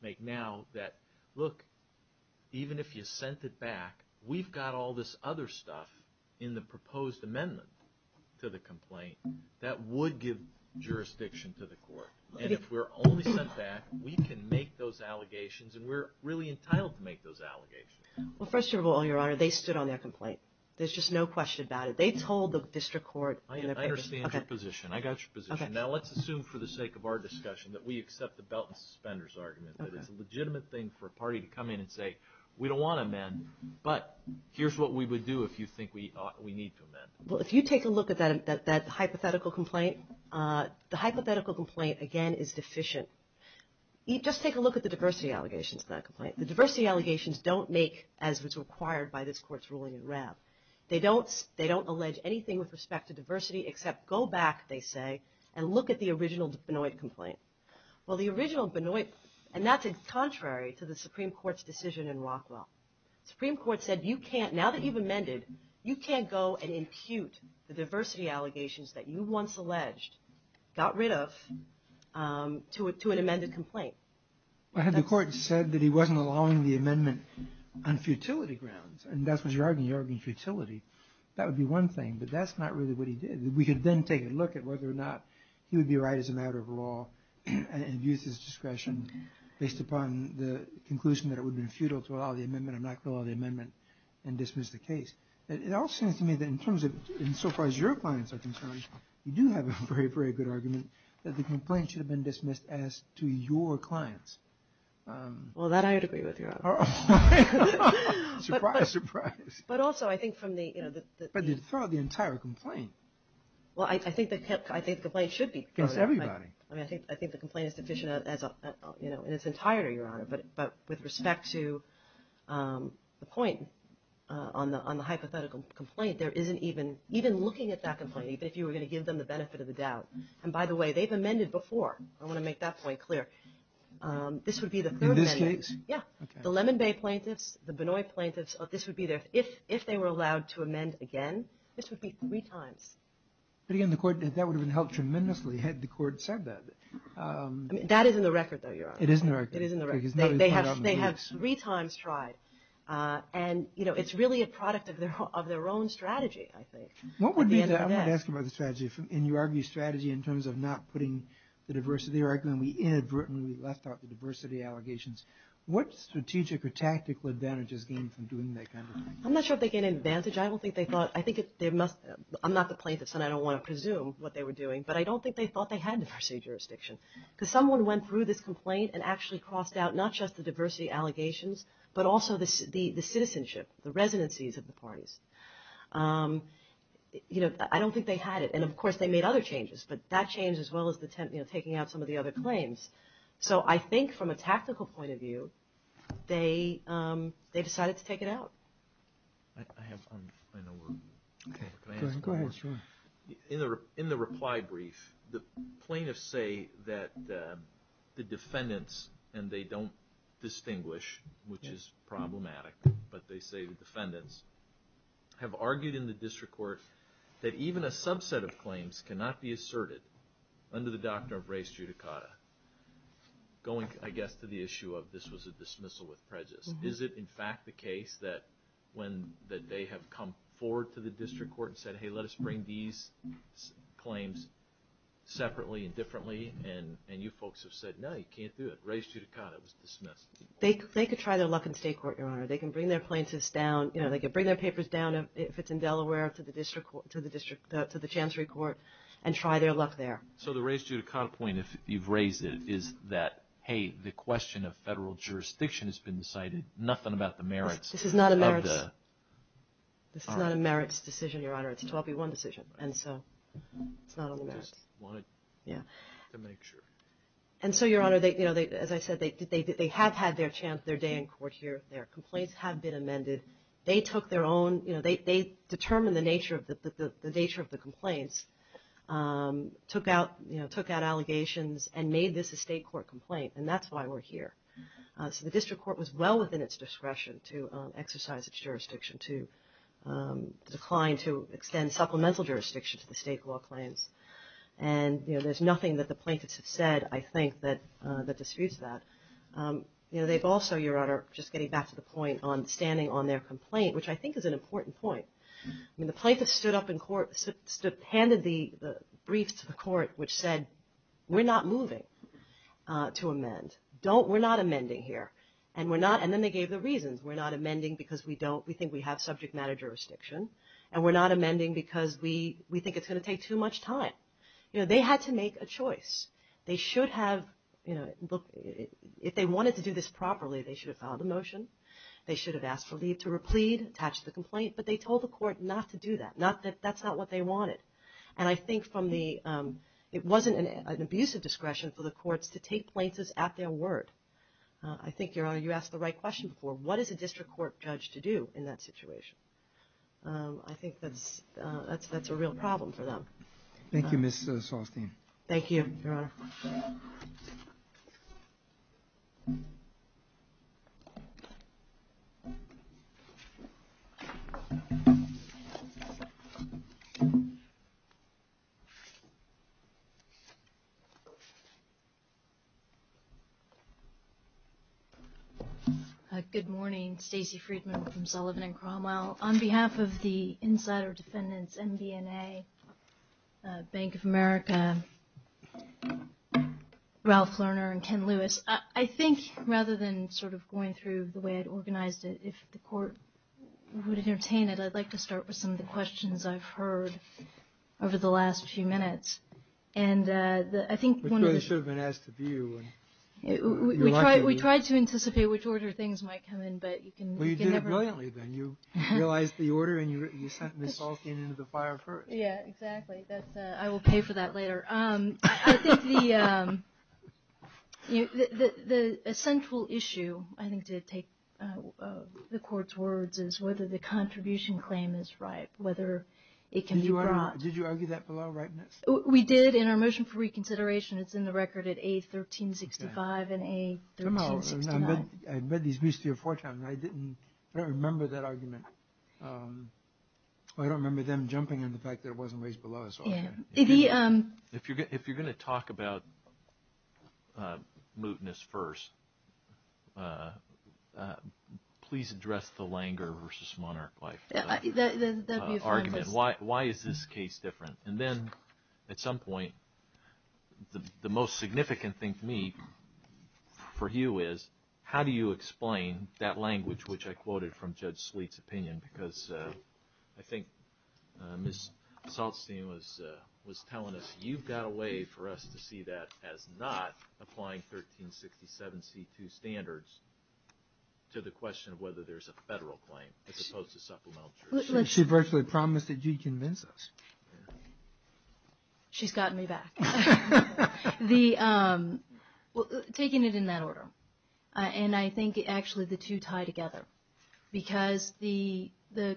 make now that, look, even if you sent it back, we've got all this other stuff in the proposed amendment to the complaint that would give jurisdiction to the court. And if we're only sent back, we can make those allegations, and we're really entitled to make those allegations. Well, first of all, Your Honor, they stood on their complaint. There's just no question about it. They told the district court – I understand your position. I got your position. Now, let's assume for the sake of our discussion that we accept the belt and suspenders argument, that it's a legitimate thing for a party to come in and say we don't want to amend, but here's what we would do if you think we need to amend. Well, if you take a look at that hypothetical complaint, the hypothetical complaint, again, is deficient. Just take a look at the diversity allegations in that complaint. The diversity allegations don't make as was required by this court's ruling in Rav. They don't allege anything with respect to diversity except go back, they say, and look at the original Benoit complaint. Well, the original Benoit, and that's contrary to the Supreme Court's decision in Rockwell. You can't go and impute the diversity allegations that you once alleged got rid of to an amended complaint. The court said that he wasn't allowing the amendment on futility grounds, and that's what you're arguing, you're arguing futility. That would be one thing, but that's not really what he did. We could then take a look at whether or not he would be right as a matter of law and use his discretion based upon the conclusion that it would be futile to allow the amendment and dismiss the case. It all seems to me that in terms of, so far as your clients are concerned, you do have a very, very good argument that the complaint should have been dismissed as to your clients. Well, that I would agree with, Your Honor. Surprise, surprise. But also, I think from the, you know, the But it's not the entire complaint. Well, I think the complaint should be. Everybody. But with respect to the point on the hypothetical complaint, there isn't even looking at that complaint, even if you were going to give them the benefit of the doubt. And by the way, they've amended before. I want to make that point clear. This would be the third amendment. In this case? Yeah. The Lemon Bay plaintiffs, the Benoist plaintiffs, this would be their, if they were allowed to amend again, this would be three times. But again, the court, that would have been helped tremendously had the court said that. That is in the record, though, Your Honor. It is in the record. It is in the record. They have three times tried. And, you know, it's really a product of their own strategy, I think. What would be the aftermath of the strategy? And you argue strategy in terms of not putting the diversity record, and we inadvertently left out the diversity allegations. What strategic or tactical advantages came from doing that kind of thing? I'm not sure if they gained an advantage. I don't think they thought. I think they must have. I'm not the plaintiff, and I don't want to presume what they were doing. But I don't think they thought they had diversity of jurisdiction. Because someone went through this complaint and actually crossed out not just the diversity allegations, but also the citizenship, the residencies of the parties. You know, I don't think they had it. And, of course, they made other changes, but that changed as well as taking out some of the other claims. So I think from a tactical point of view, they decided to take it out. I have one final one. Go ahead. In the reply brief, the plaintiffs say that the defendants, and they don't distinguish, which is problematic, but they say the defendants have argued in the district court that even a subset of claims cannot be asserted under the doctrine of race judicata, going, I guess, to the issue of this was a dismissal with prejudice. Is it, in fact, the case that they have come forward to the district court and said, hey, let us bring these claims separately and differently? And you folks have said, no, you can't do it. Race judicata was dismissed. They could try their luck in state court, Your Honor. They can bring their plaintiffs down. You know, they can bring their papers down if it's in Delaware to the district court, to the chancery court, and try their luck there. So the race judicata point, if you've raised it, is that, hey, the question of federal jurisdiction has been decided. Nothing about the merits. This is not a merits. It's not a merits decision, Your Honor. It's a 12-v-1 decision, and so it's not on the merits. And so, Your Honor, as I said, they have had their chance, their day in court here. Their complaints have been amended. They took their own – they determined the nature of the complaints, took out allegations and made this a state court complaint, and that's why we're here. So the district court was well within its discretion to exercise its jurisdiction to decline to extend supplemental jurisdiction to the state court claims. And, you know, there's nothing that the plaintiffs have said, I think, that disputes that. You know, they've also, Your Honor, just getting back to the point on standing on their complaint, which I think is an important point. I mean, the plaintiffs stood up in court, handed the briefs to the court, which said we're not moving to amend. We're not amending here. And then they gave the reasons. We're not amending because we don't – we think we have subject matter jurisdiction, and we're not amending because we think it's going to take too much time. You know, they had to make a choice. They should have, you know, if they wanted to do this properly, they should have filed a motion. They should have asked for leave to replead, attached the complaint, but they told the court not to do that, not that that's not what they wanted. And I think from the – it wasn't an abusive discretion for the courts to take plaintiffs at their word. I think, Your Honor, you asked the right question before. What is a district court judge to do in that situation? I think that's a real problem for them. Thank you, Ms. Solstein. Thank you, Your Honor. Good morning. Stacey Friedman from Sullivan and Cromwell. On behalf of the insider defendants, NBNA, Bank of America, Ralph Lerner, and Ken Lewis, I think rather than sort of going through the way I'd organize it, if the court would entertain it, I'd like to start with some of the questions I've heard over the last few minutes. And I think one of the – We tried to anticipate which order things might come in, but you can never – Well, you did it brilliantly, then. You realized the order, and you sent Ms. Solstein into the fire first. Yeah, exactly. That's – I will pay for that later. I think the essential issue, I think, to take the court's words is whether the contribution claim is right, whether it can be brought. Did you argue that for law rightness? We did in our motion for reconsideration. It's in the record at A1365 and A1369. No, I read these recently a fourth time, but I didn't – I don't remember that argument. I don't remember them jumping on the fact that it wasn't raised below us. If you're going to talk about mootness first, please address the Langer versus Monarch life argument. Why is this case different? And then at some point, the most significant thing to me for you is how do you explain that language, which I quoted from Judge Sweet's opinion, because I think Ms. Solstein was telling us, you've got a way for us to see that as not applying 1367C2 standards to the question of whether there's a federal claim as opposed to supplemental jurisdiction. She virtually promised that you'd convince us. She's gotten me back. Taking it in that order, and I think actually the two tie together, because the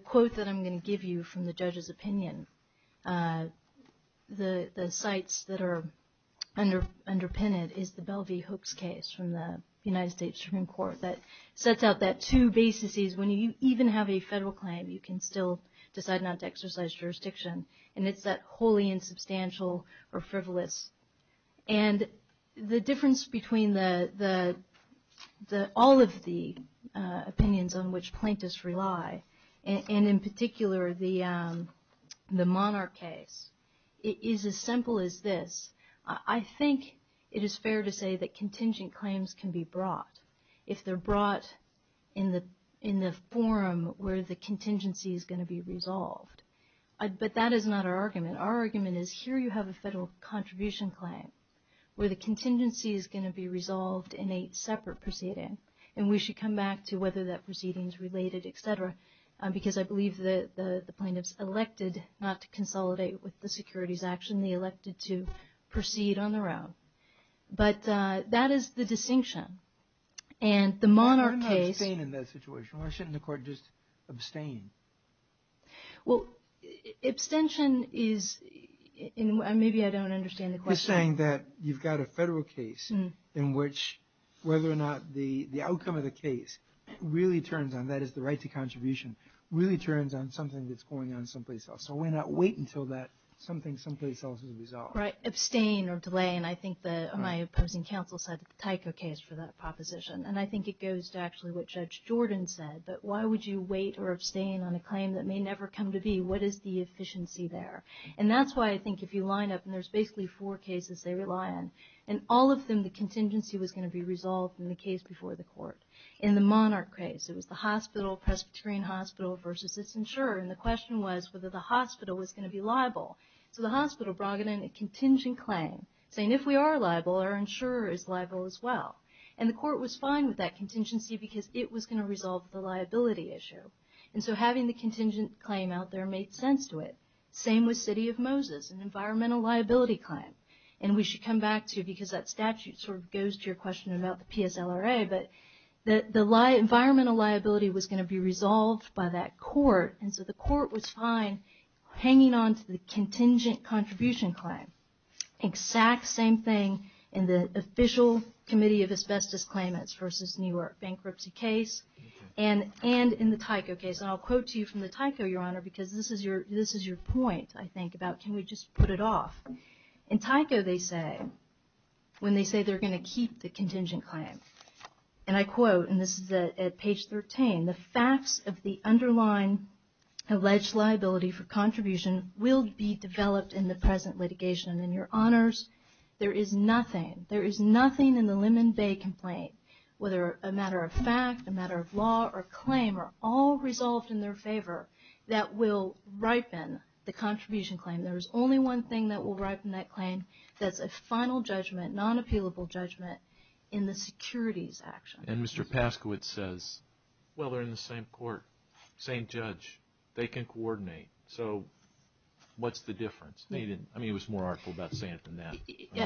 quote that I'm going to give you from the judge's opinion, the sites that are underpinned it is the Bell v. Hooks case from the United States Supreme Court that sets out that two basis is when you even have a federal claim, you can still decide not to exercise jurisdiction, and it's that wholly insubstantial or frivolous. And the difference between all of the opinions on which plaintiffs rely, and in particular the Monarch case, is as simple as this. I think it is fair to say that contingent claims can be brought if they're brought in the forum where the contingency is going to be resolved. But that is not our argument. Our argument is here you have a federal contribution claim where the contingency is going to be resolved in a separate proceeding, and we should come back to whether that proceeding is related, et cetera, because I believe the plaintiffs elected not to consolidate with the securities action. They were only elected to proceed on their own. But that is the distinction. And the Monarch case... I'm not saying in that situation. Why shouldn't the court just abstain? Well, abstention is... Maybe I don't understand the question. You're saying that you've got a federal case in which whether or not the outcome of the case really turns on, that is the right to contribution, really turns on something that's going on someplace else. So why not wait until that something simply comes to resolve? Right. Abstain or delay. And I think my opposing counsel said the Tyco case for that proposition. And I think it goes to actually what Judge Jordan said, that why would you wait or abstain on a claim that may never come to be? What is the efficiency there? And that's why I think if you line up, and there's basically four cases they rely on, and all of them the contingency was going to be resolved in the case before the court. In the Monarch case, it was the hospital, Presbyterian hospital versus this insurer. And the question was whether the hospital was going to be liable. So the hospital brought in a contingent claim, saying if we are liable, our insurer is liable as well. And the court was fine with that contingency because it was going to resolve the liability issue. And so having the contingent claim out there made sense to it. Same with City of Moses, an environmental liability claim. And we should come back to it because that statute sort of goes to your question about the PSLRA. But the environmental liability was going to be resolved by that court, and so the court was fine hanging on to the contingent contribution claim. Exact same thing in the official Committee of Asbestos Claimants versus Newark bankruptcy case and in the Tyco case. And I'll quote to you from the Tyco, Your Honor, because this is your point, I think, about can we just put it off. In Tyco they say, when they say they're going to keep the contingent claim, and I quote, and this is at page 13, the facts of the underlying alleged liability for contribution will be developed in the present litigation. And then, Your Honors, there is nothing, there is nothing in the Lemon Bay complaint, whether a matter of fact, a matter of law, or claim, are all resolved in their favor that will ripen the contribution claim. There is only one thing that will ripen that claim, that's a final judgment, non-appealable judgment in the securities action. And Mr. Paskowitz says, well, they're in the same court, same judge, they can coordinate. So what's the difference? I mean, he was more artful about saying it than that.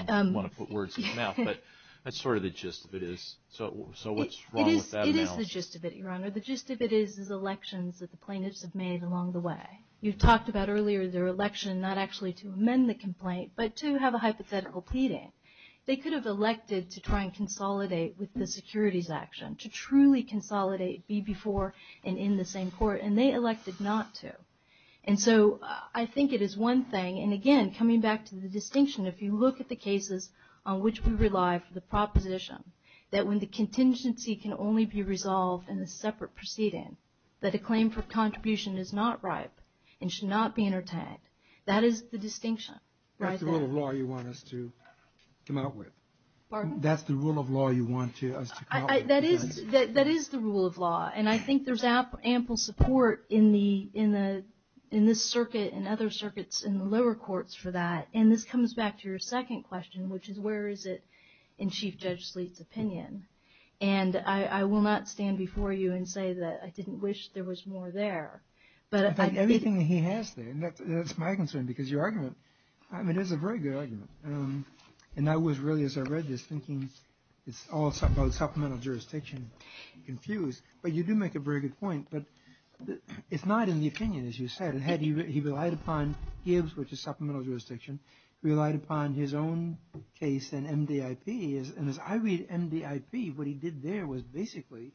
I don't want to put words in his mouth, but that's sort of the gist of it is. So what's wrong with that now? It is the gist of it, Your Honor. The gist of it is the elections that the plaintiffs have made along the way. You've talked about earlier their election not actually to amend the complaint, but to have a hypothetical pleading. They could have elected to try and consolidate with the securities action, to truly consolidate, be before and in the same court. And they elected not to. And so I think it is one thing, and, again, coming back to the distinction, if you look at the cases on which we rely for the proposition that when the contingency can only be resolved in a separate proceeding, that a claim for contribution is not ripe and should not be entertained, that is the distinction. That's the rule of law you want us to come up with. Pardon? That's the rule of law you want us to come up with. That is the rule of law. And I think there's ample support in this circuit and other circuits in the lower courts for that. And this comes back to your second question, which is where is it in Chief Judge Sleete's opinion. And I will not stand before you and say that I didn't wish there was more there. I think everything he has there, and that's my concern, because your argument is a very good argument. And that was really, as I read this, thinking it's all supplemental jurisdiction, confused. But you do make a very good point. But it's not in the opinion, as you said. He relied upon Gibbs, which is supplemental jurisdiction. He relied upon his own case in MDIP. And as I read MDIP, what he did there was basically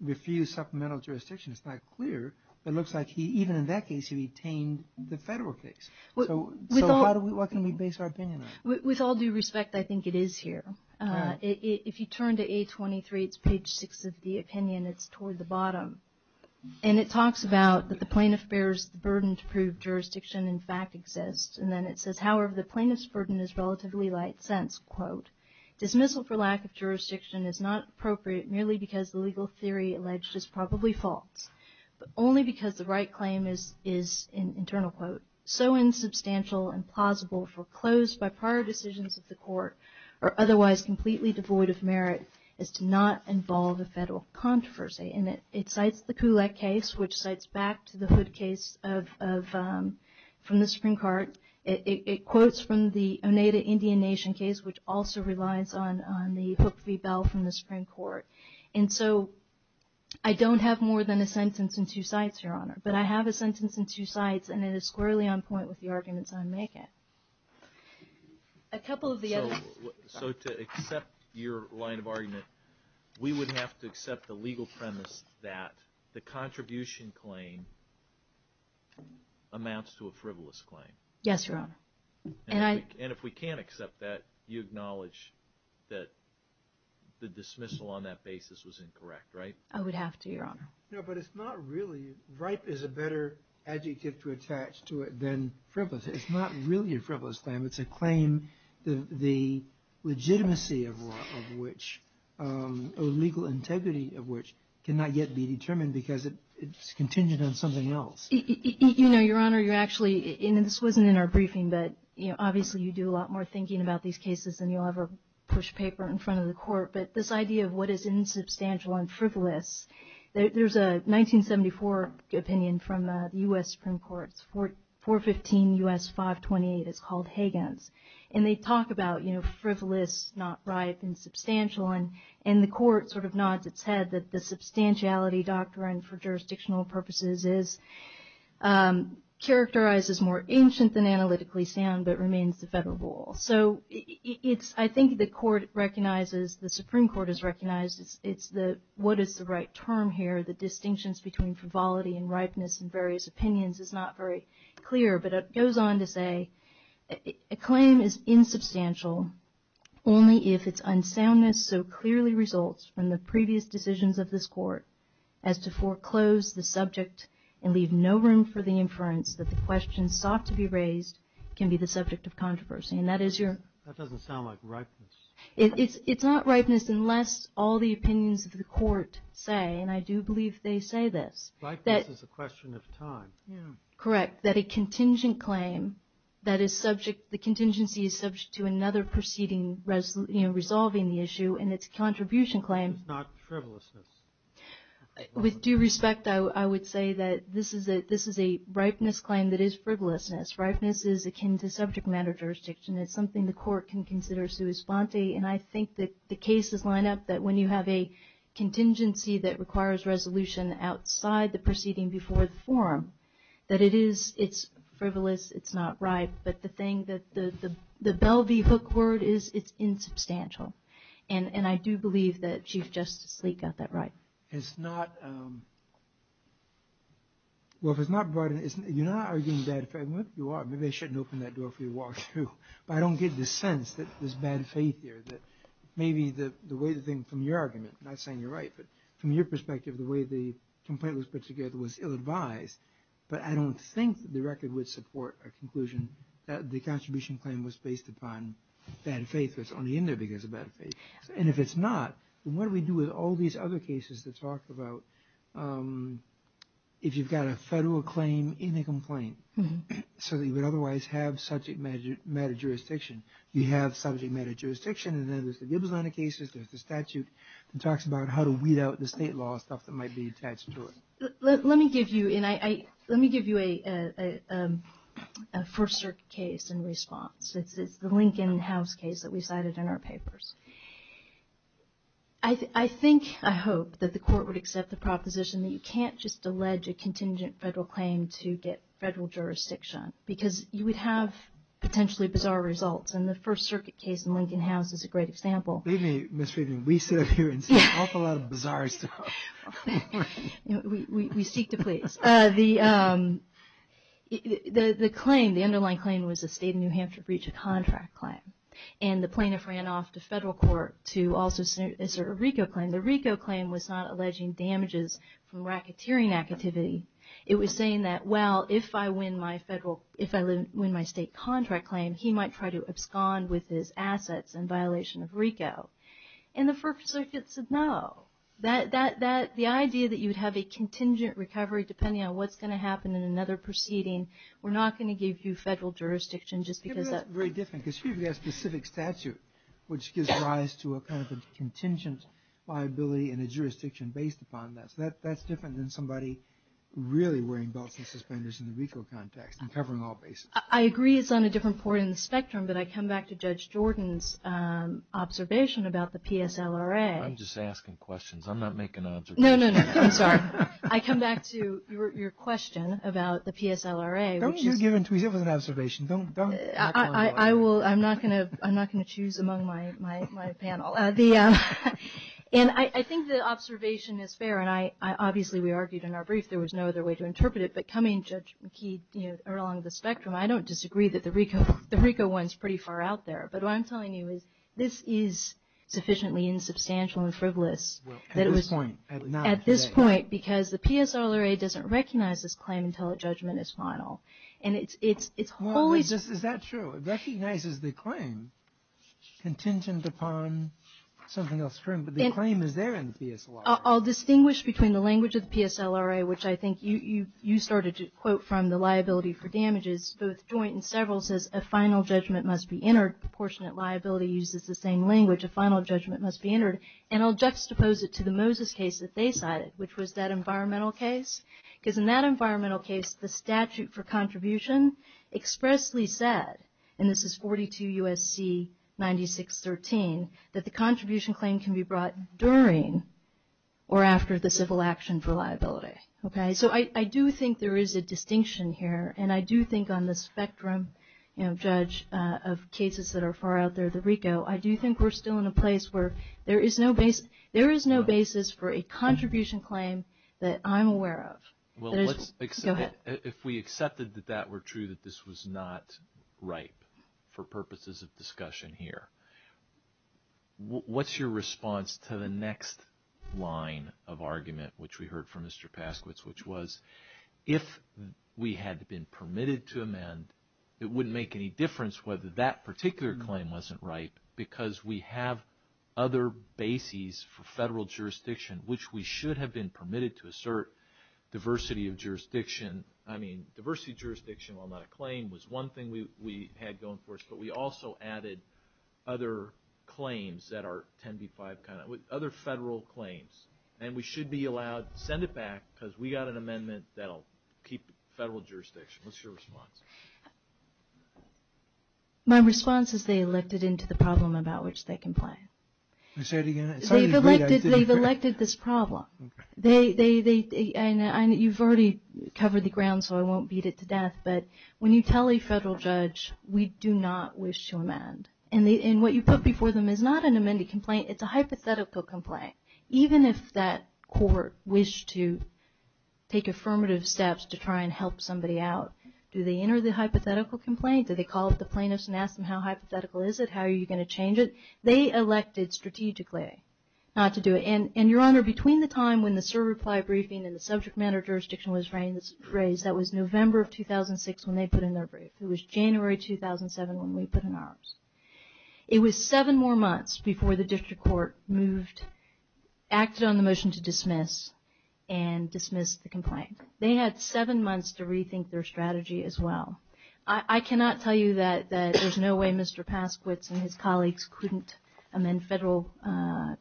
refuse supplemental jurisdiction. It's not clear. It looks like even in that case, he retained the federal case. So what can we base our opinion on? With all due respect, I think it is here. If you turn to A23, it's page 6 of the opinion. It's toward the bottom. And it talks about the plaintiff bears the burden to prove jurisdiction in fact exists. And then it says, however, the plaintiff's burden is relatively light since, quote, dismissal for lack of jurisdiction is not appropriate merely because the legal theory alleged is probably false, but only because the right claim is, in an internal quote, so insubstantial and plausible foreclosed by prior decisions of the court or otherwise completely devoid of merit as to not involve a federal controversy. And it cites the Kulak case, which cites back to the Hood case from the Supreme Court. It quotes from the Oneida Indian Nation case, which also relies on the Hood v. Bell from the Supreme Court. And so I don't have more than a sentence in two sites, Your Honor. But I have a sentence in two sites, and it is squarely on point with the arguments I'm making. So to accept your line of argument, we would have to accept the legal premise that the contribution claim amounts to a frivolous claim. Yes, Your Honor. And if we can't accept that, you acknowledge that the dismissal on that basis was incorrect, right? No, but it's not really – ripe is a better adjective to attach to it than frivolous. It's not really a frivolous claim. It's a claim, the legitimacy of which – or legal integrity of which cannot yet be determined because it's contingent on something else. You know, Your Honor, you're actually – and this wasn't in our briefing, but obviously you do a lot more thinking about these cases than you'll ever push paper in front of the court. But this idea of what is insubstantial and frivolous, there's a 1974 opinion from the U.S. Supreme Court, 415 U.S. 528. It's called Higgins. And they talk about, you know, frivolous, not ripe, insubstantial. And the court sort of nods its head that the substantiality doctrine for jurisdictional purposes is characterized as more ancient than analytically sound but remains the federal rule. So it's – I think the court recognizes – the Supreme Court has recognized it's the – what is the right term here? The distinctions between frivolity and ripeness in various opinions is not very clear. But it goes on to say a claim is insubstantial only if its unsoundness so clearly results from the previous decisions of this court as to foreclose the subject and leave no room for the inference that the question sought to be raised can be the subject of controversy. And that is your – That doesn't sound like ripeness. It's not ripeness unless all the opinions of the court say – and I do believe they say this – Ripeness is a question of time. Correct. That a contingent claim that is subject – the contingency is subject to another proceeding resolving the issue and its contribution claim – It's not frivolousness. With due respect, I would say that this is a ripeness claim that is frivolousness. Ripeness is akin to subject matter jurisdiction. It's something the court can consider sui sponte. And I think that the cases line up that when you have a contingency that requires resolution outside the proceeding before the forum, that it is – it's frivolous. It's not ripe. But the thing that – the belly hook word is it's insubstantial. And I do believe that Chief Justice Clegg got that right. It's not – well, if it's not – you're not arguing that. You are. Maybe I shouldn't open that door for you to walk through. But I don't get the sense that there's bad faith here, that maybe the way the thing – from your argument – I'm not saying you're right. But from your perspective, the way the complaint was put together was ill-advised. But I don't think the record would support a conclusion that the contribution claim was based upon bad faith that's only in there because of bad faith. And if it's not, then what do we do with all these other cases that talk about if you've got a federal claim in a complaint so that you would otherwise have subject matter jurisdiction? You have subject matter jurisdiction, and then there's the Gibbons line of cases, there's the statute that talks about how to weed out the state law, stuff that might be attached to it. Let me give you – and I – let me give you a first case in response. It's the Lincoln House case that we cited in our papers. I think – I hope that the court would accept the proposition that you can't just allege a contingent federal claim to get federal jurisdiction because you would have potentially bizarre results. And the First Circuit case in Lincoln House is a great example. Excuse me, Ms. Friedman. We sit up here and see an awful lot of bizarre stuff. We seek to please. The claim – the underlying claim was the state of New Hampshire breach of contract claim, and the plaintiff ran off to federal court to also assert a RICO claim. The RICO claim was not alleging damages from racketeering activity. It was saying that, well, if I win my federal – if I win my state contract claim, he might try to abscond with his assets in violation of RICO. And the First Circuit said no. That – the idea that you would have a contingent recovery depending on what's going to happen in another proceeding, we're not going to give you federal jurisdiction just because that – It's very different because she has a specific statute which gives rise to a kind of a contingent liability and a jurisdiction based upon that. So that's different than somebody really wearing belts and suspenders in the RICO context and covering all bases. I agree it's on a different point in the spectrum, but I come back to Judge Jordan's observation about the PSLRA. I'm just asking questions. I'm not making observations. No, no, no. I'm sorry. I come back to your question about the PSLRA. Don't you give an observation. Don't – I will. I'm not going to choose among my panel. And I think the observation is fair, and I – obviously, we argued in our brief. There was no other way to interpret it, but coming along the spectrum, I don't disagree that the RICO one's pretty far out there. But what I'm telling you is this is sufficiently insubstantial and frivolous that it was – At this point, I would not say. At this point, because the PSLRA doesn't recognize this claim until the judgment is final. And it's wholly – Well, is that true? It recognizes the claim contingent upon something else. The claim is there in the PSLRA. Well, I'll distinguish between the language of the PSLRA, which I think you started to quote from the liability for damages, both joint and several, says a final judgment must be entered. Proportionate liability uses the same language. A final judgment must be entered. And I'll juxtapose it to the Moses case that they cited, which was that environmental case. Because in that environmental case, the statute for contribution expressly said, and this is 42 U.S.C. 9613, that the contribution claim can be brought during or after the civil action for liability. So I do think there is a distinction here. And I do think on the spectrum, Judge, of cases that are far out there, the RICO, I do think we're still in a place where there is no basis for a contribution claim that I'm aware of. Well, if we accepted that that were true, that this was not ripe for purposes of discussion here, what's your response to the next line of argument, which we heard from Mr. Paskowitz, which was if we had been permitted to amend, it wouldn't make any difference whether that particular claim wasn't ripe, because we have other bases for federal jurisdiction, which we should have been permitted to assert diversity of jurisdiction. I mean, diversity of jurisdiction, while not a claim, was one thing we had going for us. But we also added other claims that are 10b-5, other federal claims. And we should be allowed to send it back because we got an amendment that will keep federal jurisdiction. What's your response? My response is they elected into the problem about which they complain. They've elected this problem. And you've already covered the ground, so I won't beat it to death. But when you tell a federal judge, we do not wish to amend. And what you put before them is not an amended complaint. It's a hypothetical complaint. Even if that court wished to take affirmative steps to try and help somebody out, do they enter the hypothetical complaint? Do they call up the plaintiffs and ask them how hypothetical is it? How are you going to change it? They elected strategically not to do it. And, Your Honor, between the time when the SIR reply briefing and the subject matter jurisdiction was raised, that was November of 2006 when they put in their brief. It was January 2007 when we put in ours. It was seven more months before the district court moved, acted on the motion to dismiss, and dismissed the complaint. They had seven months to rethink their strategy as well. I cannot tell you that there's no way Mr. Pasquitz and his colleagues couldn't amend federal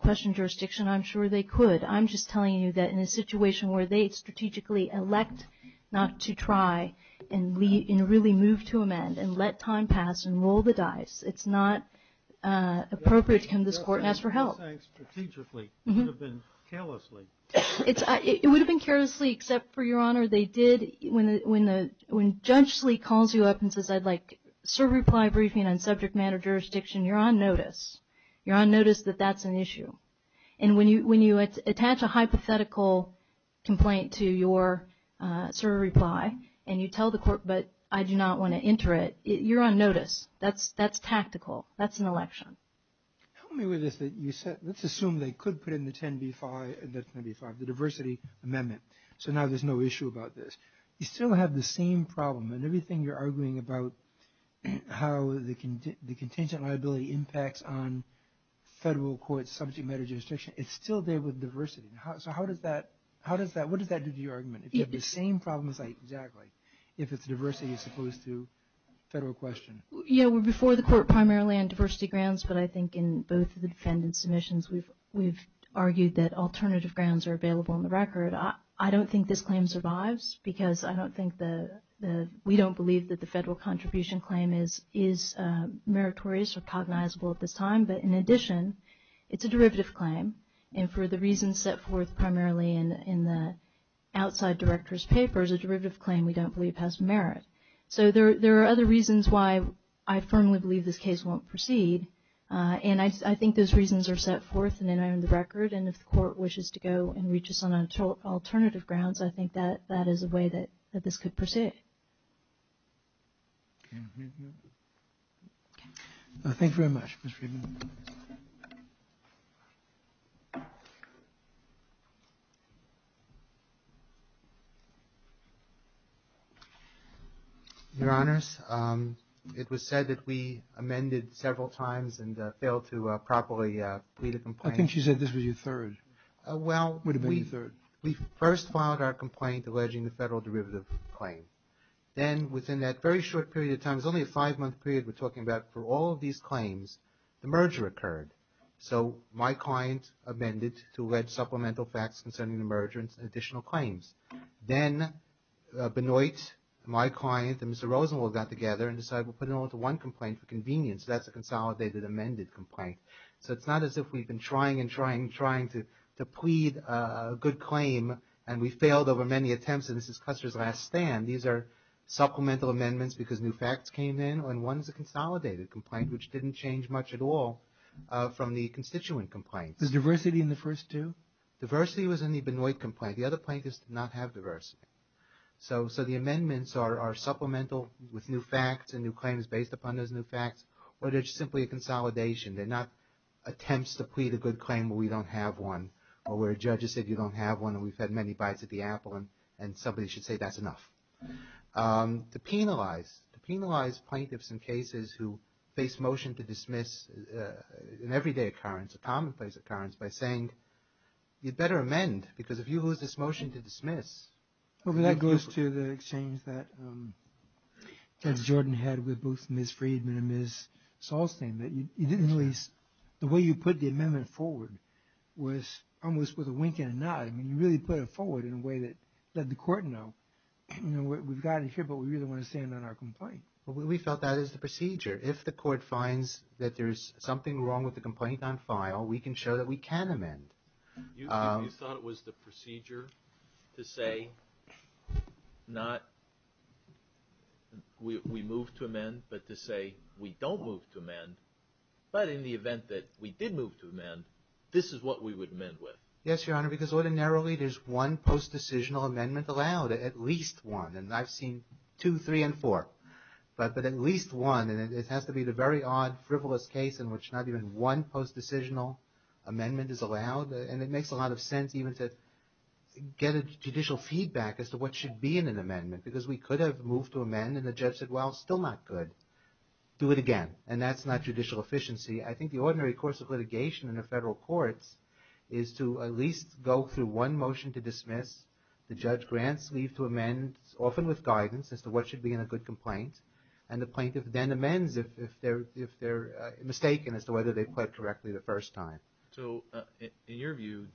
question jurisdiction. I'm sure they could. I'm just telling you that in a situation where they strategically elect not to try and really move to amend and let time pass and roll the dice, it's not appropriate to come to this court and ask for help. Strategically, it would have been callously. It would have been callously, except for, Your Honor, they did, when Judge Lee calls you up and says, I'd like SIR reply briefing on subject matter jurisdiction, you're on notice. And when you attach a hypothetical complaint to your SIR reply and you tell the court, but I do not want to enter it, you're on notice. That's tactical. That's an election. Let's assume they could put in the 10B5, the diversity amendment, so now there's no issue about this. You still have the same problem. And everything you're arguing about how the contingent liability impacts on federal court subject matter jurisdiction, it's still there with diversity. So how does that – what does that do to your argument? It's the same problem site, exactly, if it's diversity as opposed to federal question. Yeah, we're before the court primarily on diversity grounds, but I think in both of the defendant's submissions, we've argued that alternative grounds are available on the record. I don't think this claim survives because I don't think the – we don't believe that the federal contribution claim is meritorious or cognizable at this time, but in addition, it's a derivative claim. And for the reasons set forth primarily in the outside director's papers, a derivative claim we don't believe has merit. So there are other reasons why I firmly believe this case won't proceed. And I think those reasons are set forth in the record, and if the court wishes to go and reach us on alternative grounds, I think that is a way that this could proceed. Thank you very much, Ms. Friedman. Thank you. Your Honors, it was said that we amended several times and failed to properly plead a complaint. I think she said this was your third. Well, we first filed our complaint alleging the federal derivative claim. Then within that very short period of time, it was only a five-month period we're talking about, for all of these claims, the merger occurred. So my client amended to allege supplemental facts concerning the merger and additional claims. Then Benoit, my client, and Mr. Rosenwald got together and decided we'll put in one complaint for convenience. That's a consolidated amended complaint. So it's not as if we've been trying and trying and trying to plead a good claim, and we failed over many attempts, and this is Custer's last stand. These are supplemental amendments because new facts came in, and one is a consolidated complaint, which didn't change much at all from the constituent complaint. Was diversity in the first two? Diversity was in the Benoit complaint. The other plaintiff did not have diversity. So the amendments are supplemental with new facts and new claims based upon those new facts, but it's simply a consolidation. They're not attempts to plead a good claim where we don't have one or where a judge has said you don't have one and we've had many bites at the apple and somebody should say that's enough. To penalize plaintiffs in cases who face motion to dismiss in everyday occurrence, a commonplace occurrence, by saying you'd better amend because if you lose this motion to dismiss. That goes to the exchange that Judge Jordan had with both Ms. Friedman and Ms. Saulstein. The way you put the amendment forward was almost with a wink and a nod. I mean, you really put it forward in a way that the court knows we've gotten here, but we really want to stand on our complaint. We thought that is the procedure. If the court finds that there's something wrong with the complaint on file, we can show that we can amend. You thought it was the procedure to say not we move to amend, but to say we don't move to amend, but in the event that we did move to amend, this is what we would amend with. Yes, Your Honor, because ordinarily there's one post-decisional amendment allowed, at least one, and I've seen two, three, and four, but at least one. It has to be the very odd, frivolous case in which not even one post-decisional amendment is allowed, and it makes a lot of sense even to get a judicial feedback as to what should be in an amendment because we could have moved to amend and the judge said, well, still not good. Do it again, and that's not judicial efficiency. I think the ordinary course of litigation in the federal courts is to at least go through one motion to dismiss. The judge grants leave to amend, often with guidance as to what should be in a good complaint, and the plaintiff then amends if they're mistaken as to whether they pled correctly the first time. So in your view,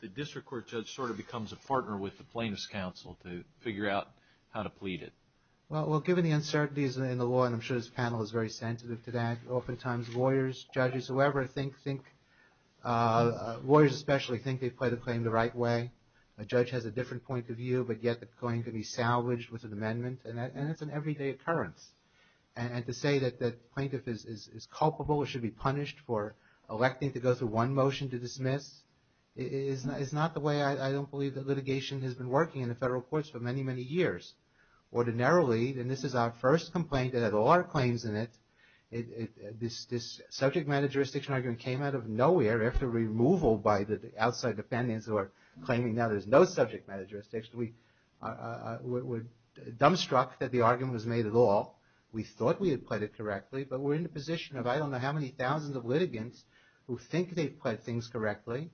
the district court judge sort of becomes a partner with the plaintiff's counsel to figure out how to plead it. Well, given the uncertainties in the law, and I'm sure this panel is very sensitive to that, oftentimes lawyers, judges, whoever, lawyers especially think they've pled a claim the right way. A judge has a different point of view, but yet the claim can be salvaged with an amendment, and it's an everyday occurrence, and to say that the plaintiff is culpable or should be punished for electing to go through one motion to dismiss is not the way. I don't believe that litigation has been working in the federal courts for many, many years. Ordinarily, and this is our first complaint that had a lot of claims in it, this subject matter jurisdiction argument came out of nowhere after removal by the outside defendants who are claiming that there's no subject matter jurisdiction. We're dumbstruck that the argument was made at all. We thought we had pled it correctly, but we're in a position of I don't know how many thousands of litigants who think they've pled things correctly.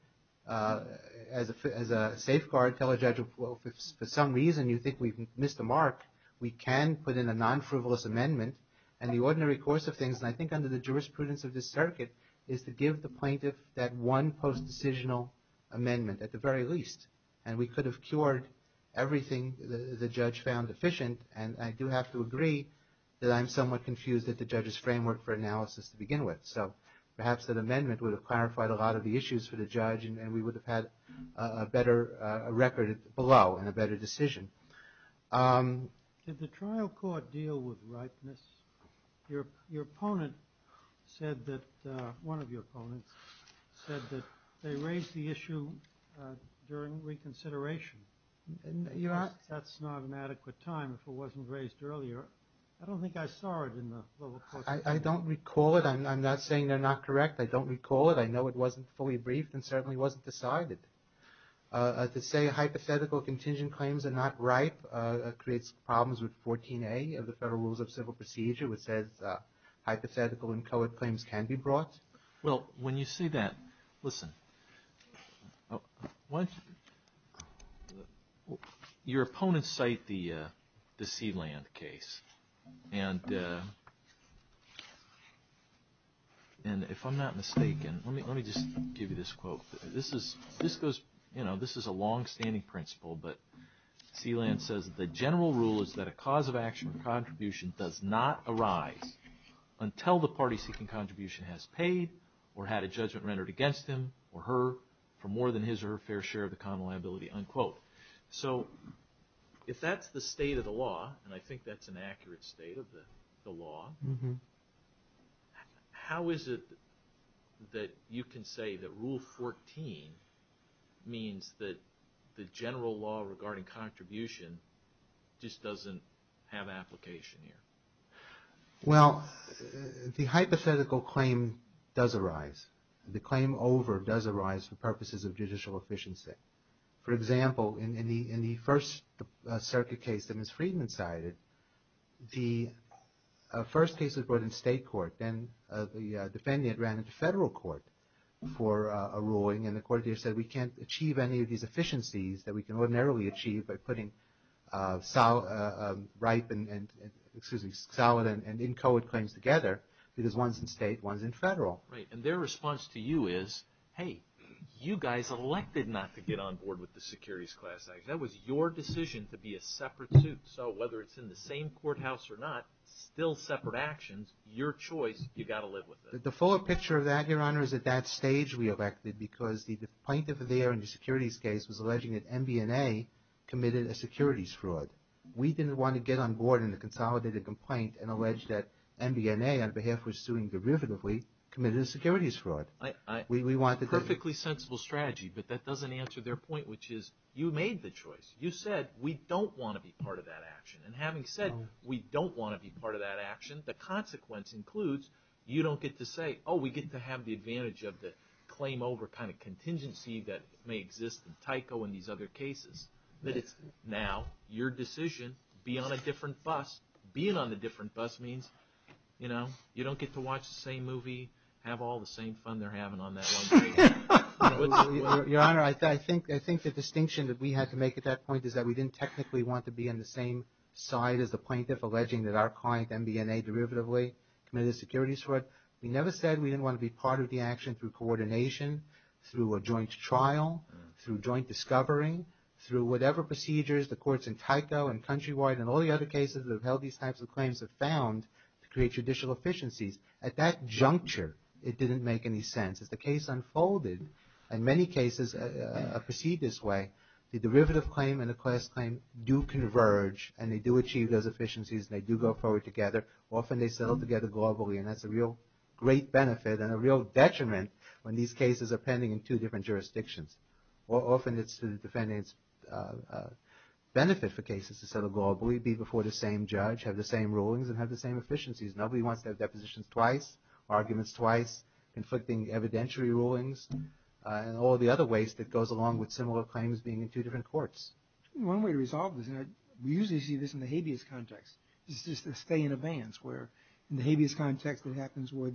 As a safeguard, tell a judge, well, if for some reason you think we've missed the mark, we can put in a non-frivolous amendment, and the ordinary course of things, and I think under the jurisprudence of this circuit, is to give the plaintiff that one post-decisional amendment at the very least, and we could have cured everything the judge found efficient, and I do have to agree that I'm somewhat confused at the judge's framework for analysis to begin with. So perhaps that amendment would have clarified a lot of the issues for the judge, and we would have had a better record below and a better decision. Did the trial court deal with rightness? Your opponent said that, one of your opponents said that they raised the issue during reconsideration. That's not an adequate time if it wasn't raised earlier. I don't think I saw it in the bullet point. I don't recall it. I'm not saying they're not correct. I don't recall it. I know it wasn't fully briefed and certainly wasn't decided. To say hypothetical contingent claims are not right creates problems with 14A of the Federal Rules of Civil Procedure, which says hypothetical and colored claims can be brought. Well, when you see that, listen, your opponents cite the Sealand case. And if I'm not mistaken – let me just give you this quote. This is a longstanding principle, but Sealand says, the general rule is that a cause of action or contribution does not arise until the party seeking contribution has paid or had a judgment rendered against him or her for more than his or her fair share of the common liability, unquote. So if that's the state of the law, and I think that's an accurate state of the law, how is it that you can say that Rule 14 means that the general law regarding contribution just doesn't have application here? Well, the hypothetical claim does arise. The claim over does arise for purposes of judicial efficiency. For example, in the first circuit case that Ms. Friedman cited, the first case was brought in state court. Then the defendant ran into federal court for a ruling, and the court said, we can't achieve any of these efficiencies that we can ordinarily achieve by putting solid and inchoate claims together, because one's in state, one's in federal. Right, and their response to you is, hey, you guys elected not to get on board with the securities class act. That was your decision to be a separate suit. So whether it's in the same courthouse or not, still separate actions, your choice, you've got to live with it. The fuller picture of that, Your Honor, is at that stage we elected, because the plaintiff there in the securities case was alleging that MBNA committed a securities fraud. We didn't want to get on board in the consolidated complaint and allege that MBNA, on behalf of suing derivatively, committed a securities fraud. It's a perfectly sensible strategy, but that doesn't answer their point, which is you made the choice. You said we don't want to be part of that action. And having said we don't want to be part of that action, the consequence includes you don't get to say, oh, we get to have the advantage of the claim over kind of contingency that may exist in Tyco and these other cases. Now, your decision, be on a different bus, being on a different bus means, you know, you don't get to watch the same movie, have all the same fun they're having on that one train. Your Honor, I think the distinction that we had to make at that point is that we didn't technically want to be in the same side as the plaintiff alleging that our client, MBNA, derivatively committed a securities fraud. We never said we didn't want to be part of the action through coordination, through a joint trial, through joint discovering, through whatever procedures the courts in Tyco and countrywide and all the other cases that have held these types of claims have found to create judicial efficiencies. At that juncture, it didn't make any sense. If the case unfolded, in many cases proceed this way, the derivative claim and the class claim do converge and they do achieve those efficiencies and they do go forward together. Often they settle together globally, and that's a real great benefit and a real detriment when these cases are pending in two different jurisdictions. Often it's to the defendant's benefit for cases to settle globally, be before the same judge, have the same rulings and have the same efficiencies. Nobody wants to have depositions twice, arguments twice, conflicting evidentiary rulings, and all the other waste that goes along with similar claims being in two different courts. One way to resolve this, and we usually see this in the habeas context, is just a stay in advance where, in the habeas context, it happens where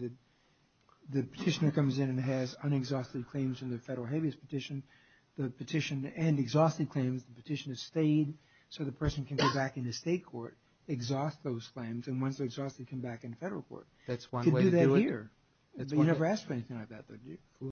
the petitioner comes in and has unexhausted claims in the federal habeas petition, the petition, and exhausted claims, the petition is stayed so the person can go back in the state court, exhaust those claims, and once they're exhausted, come back in the federal court. That's one way to do it.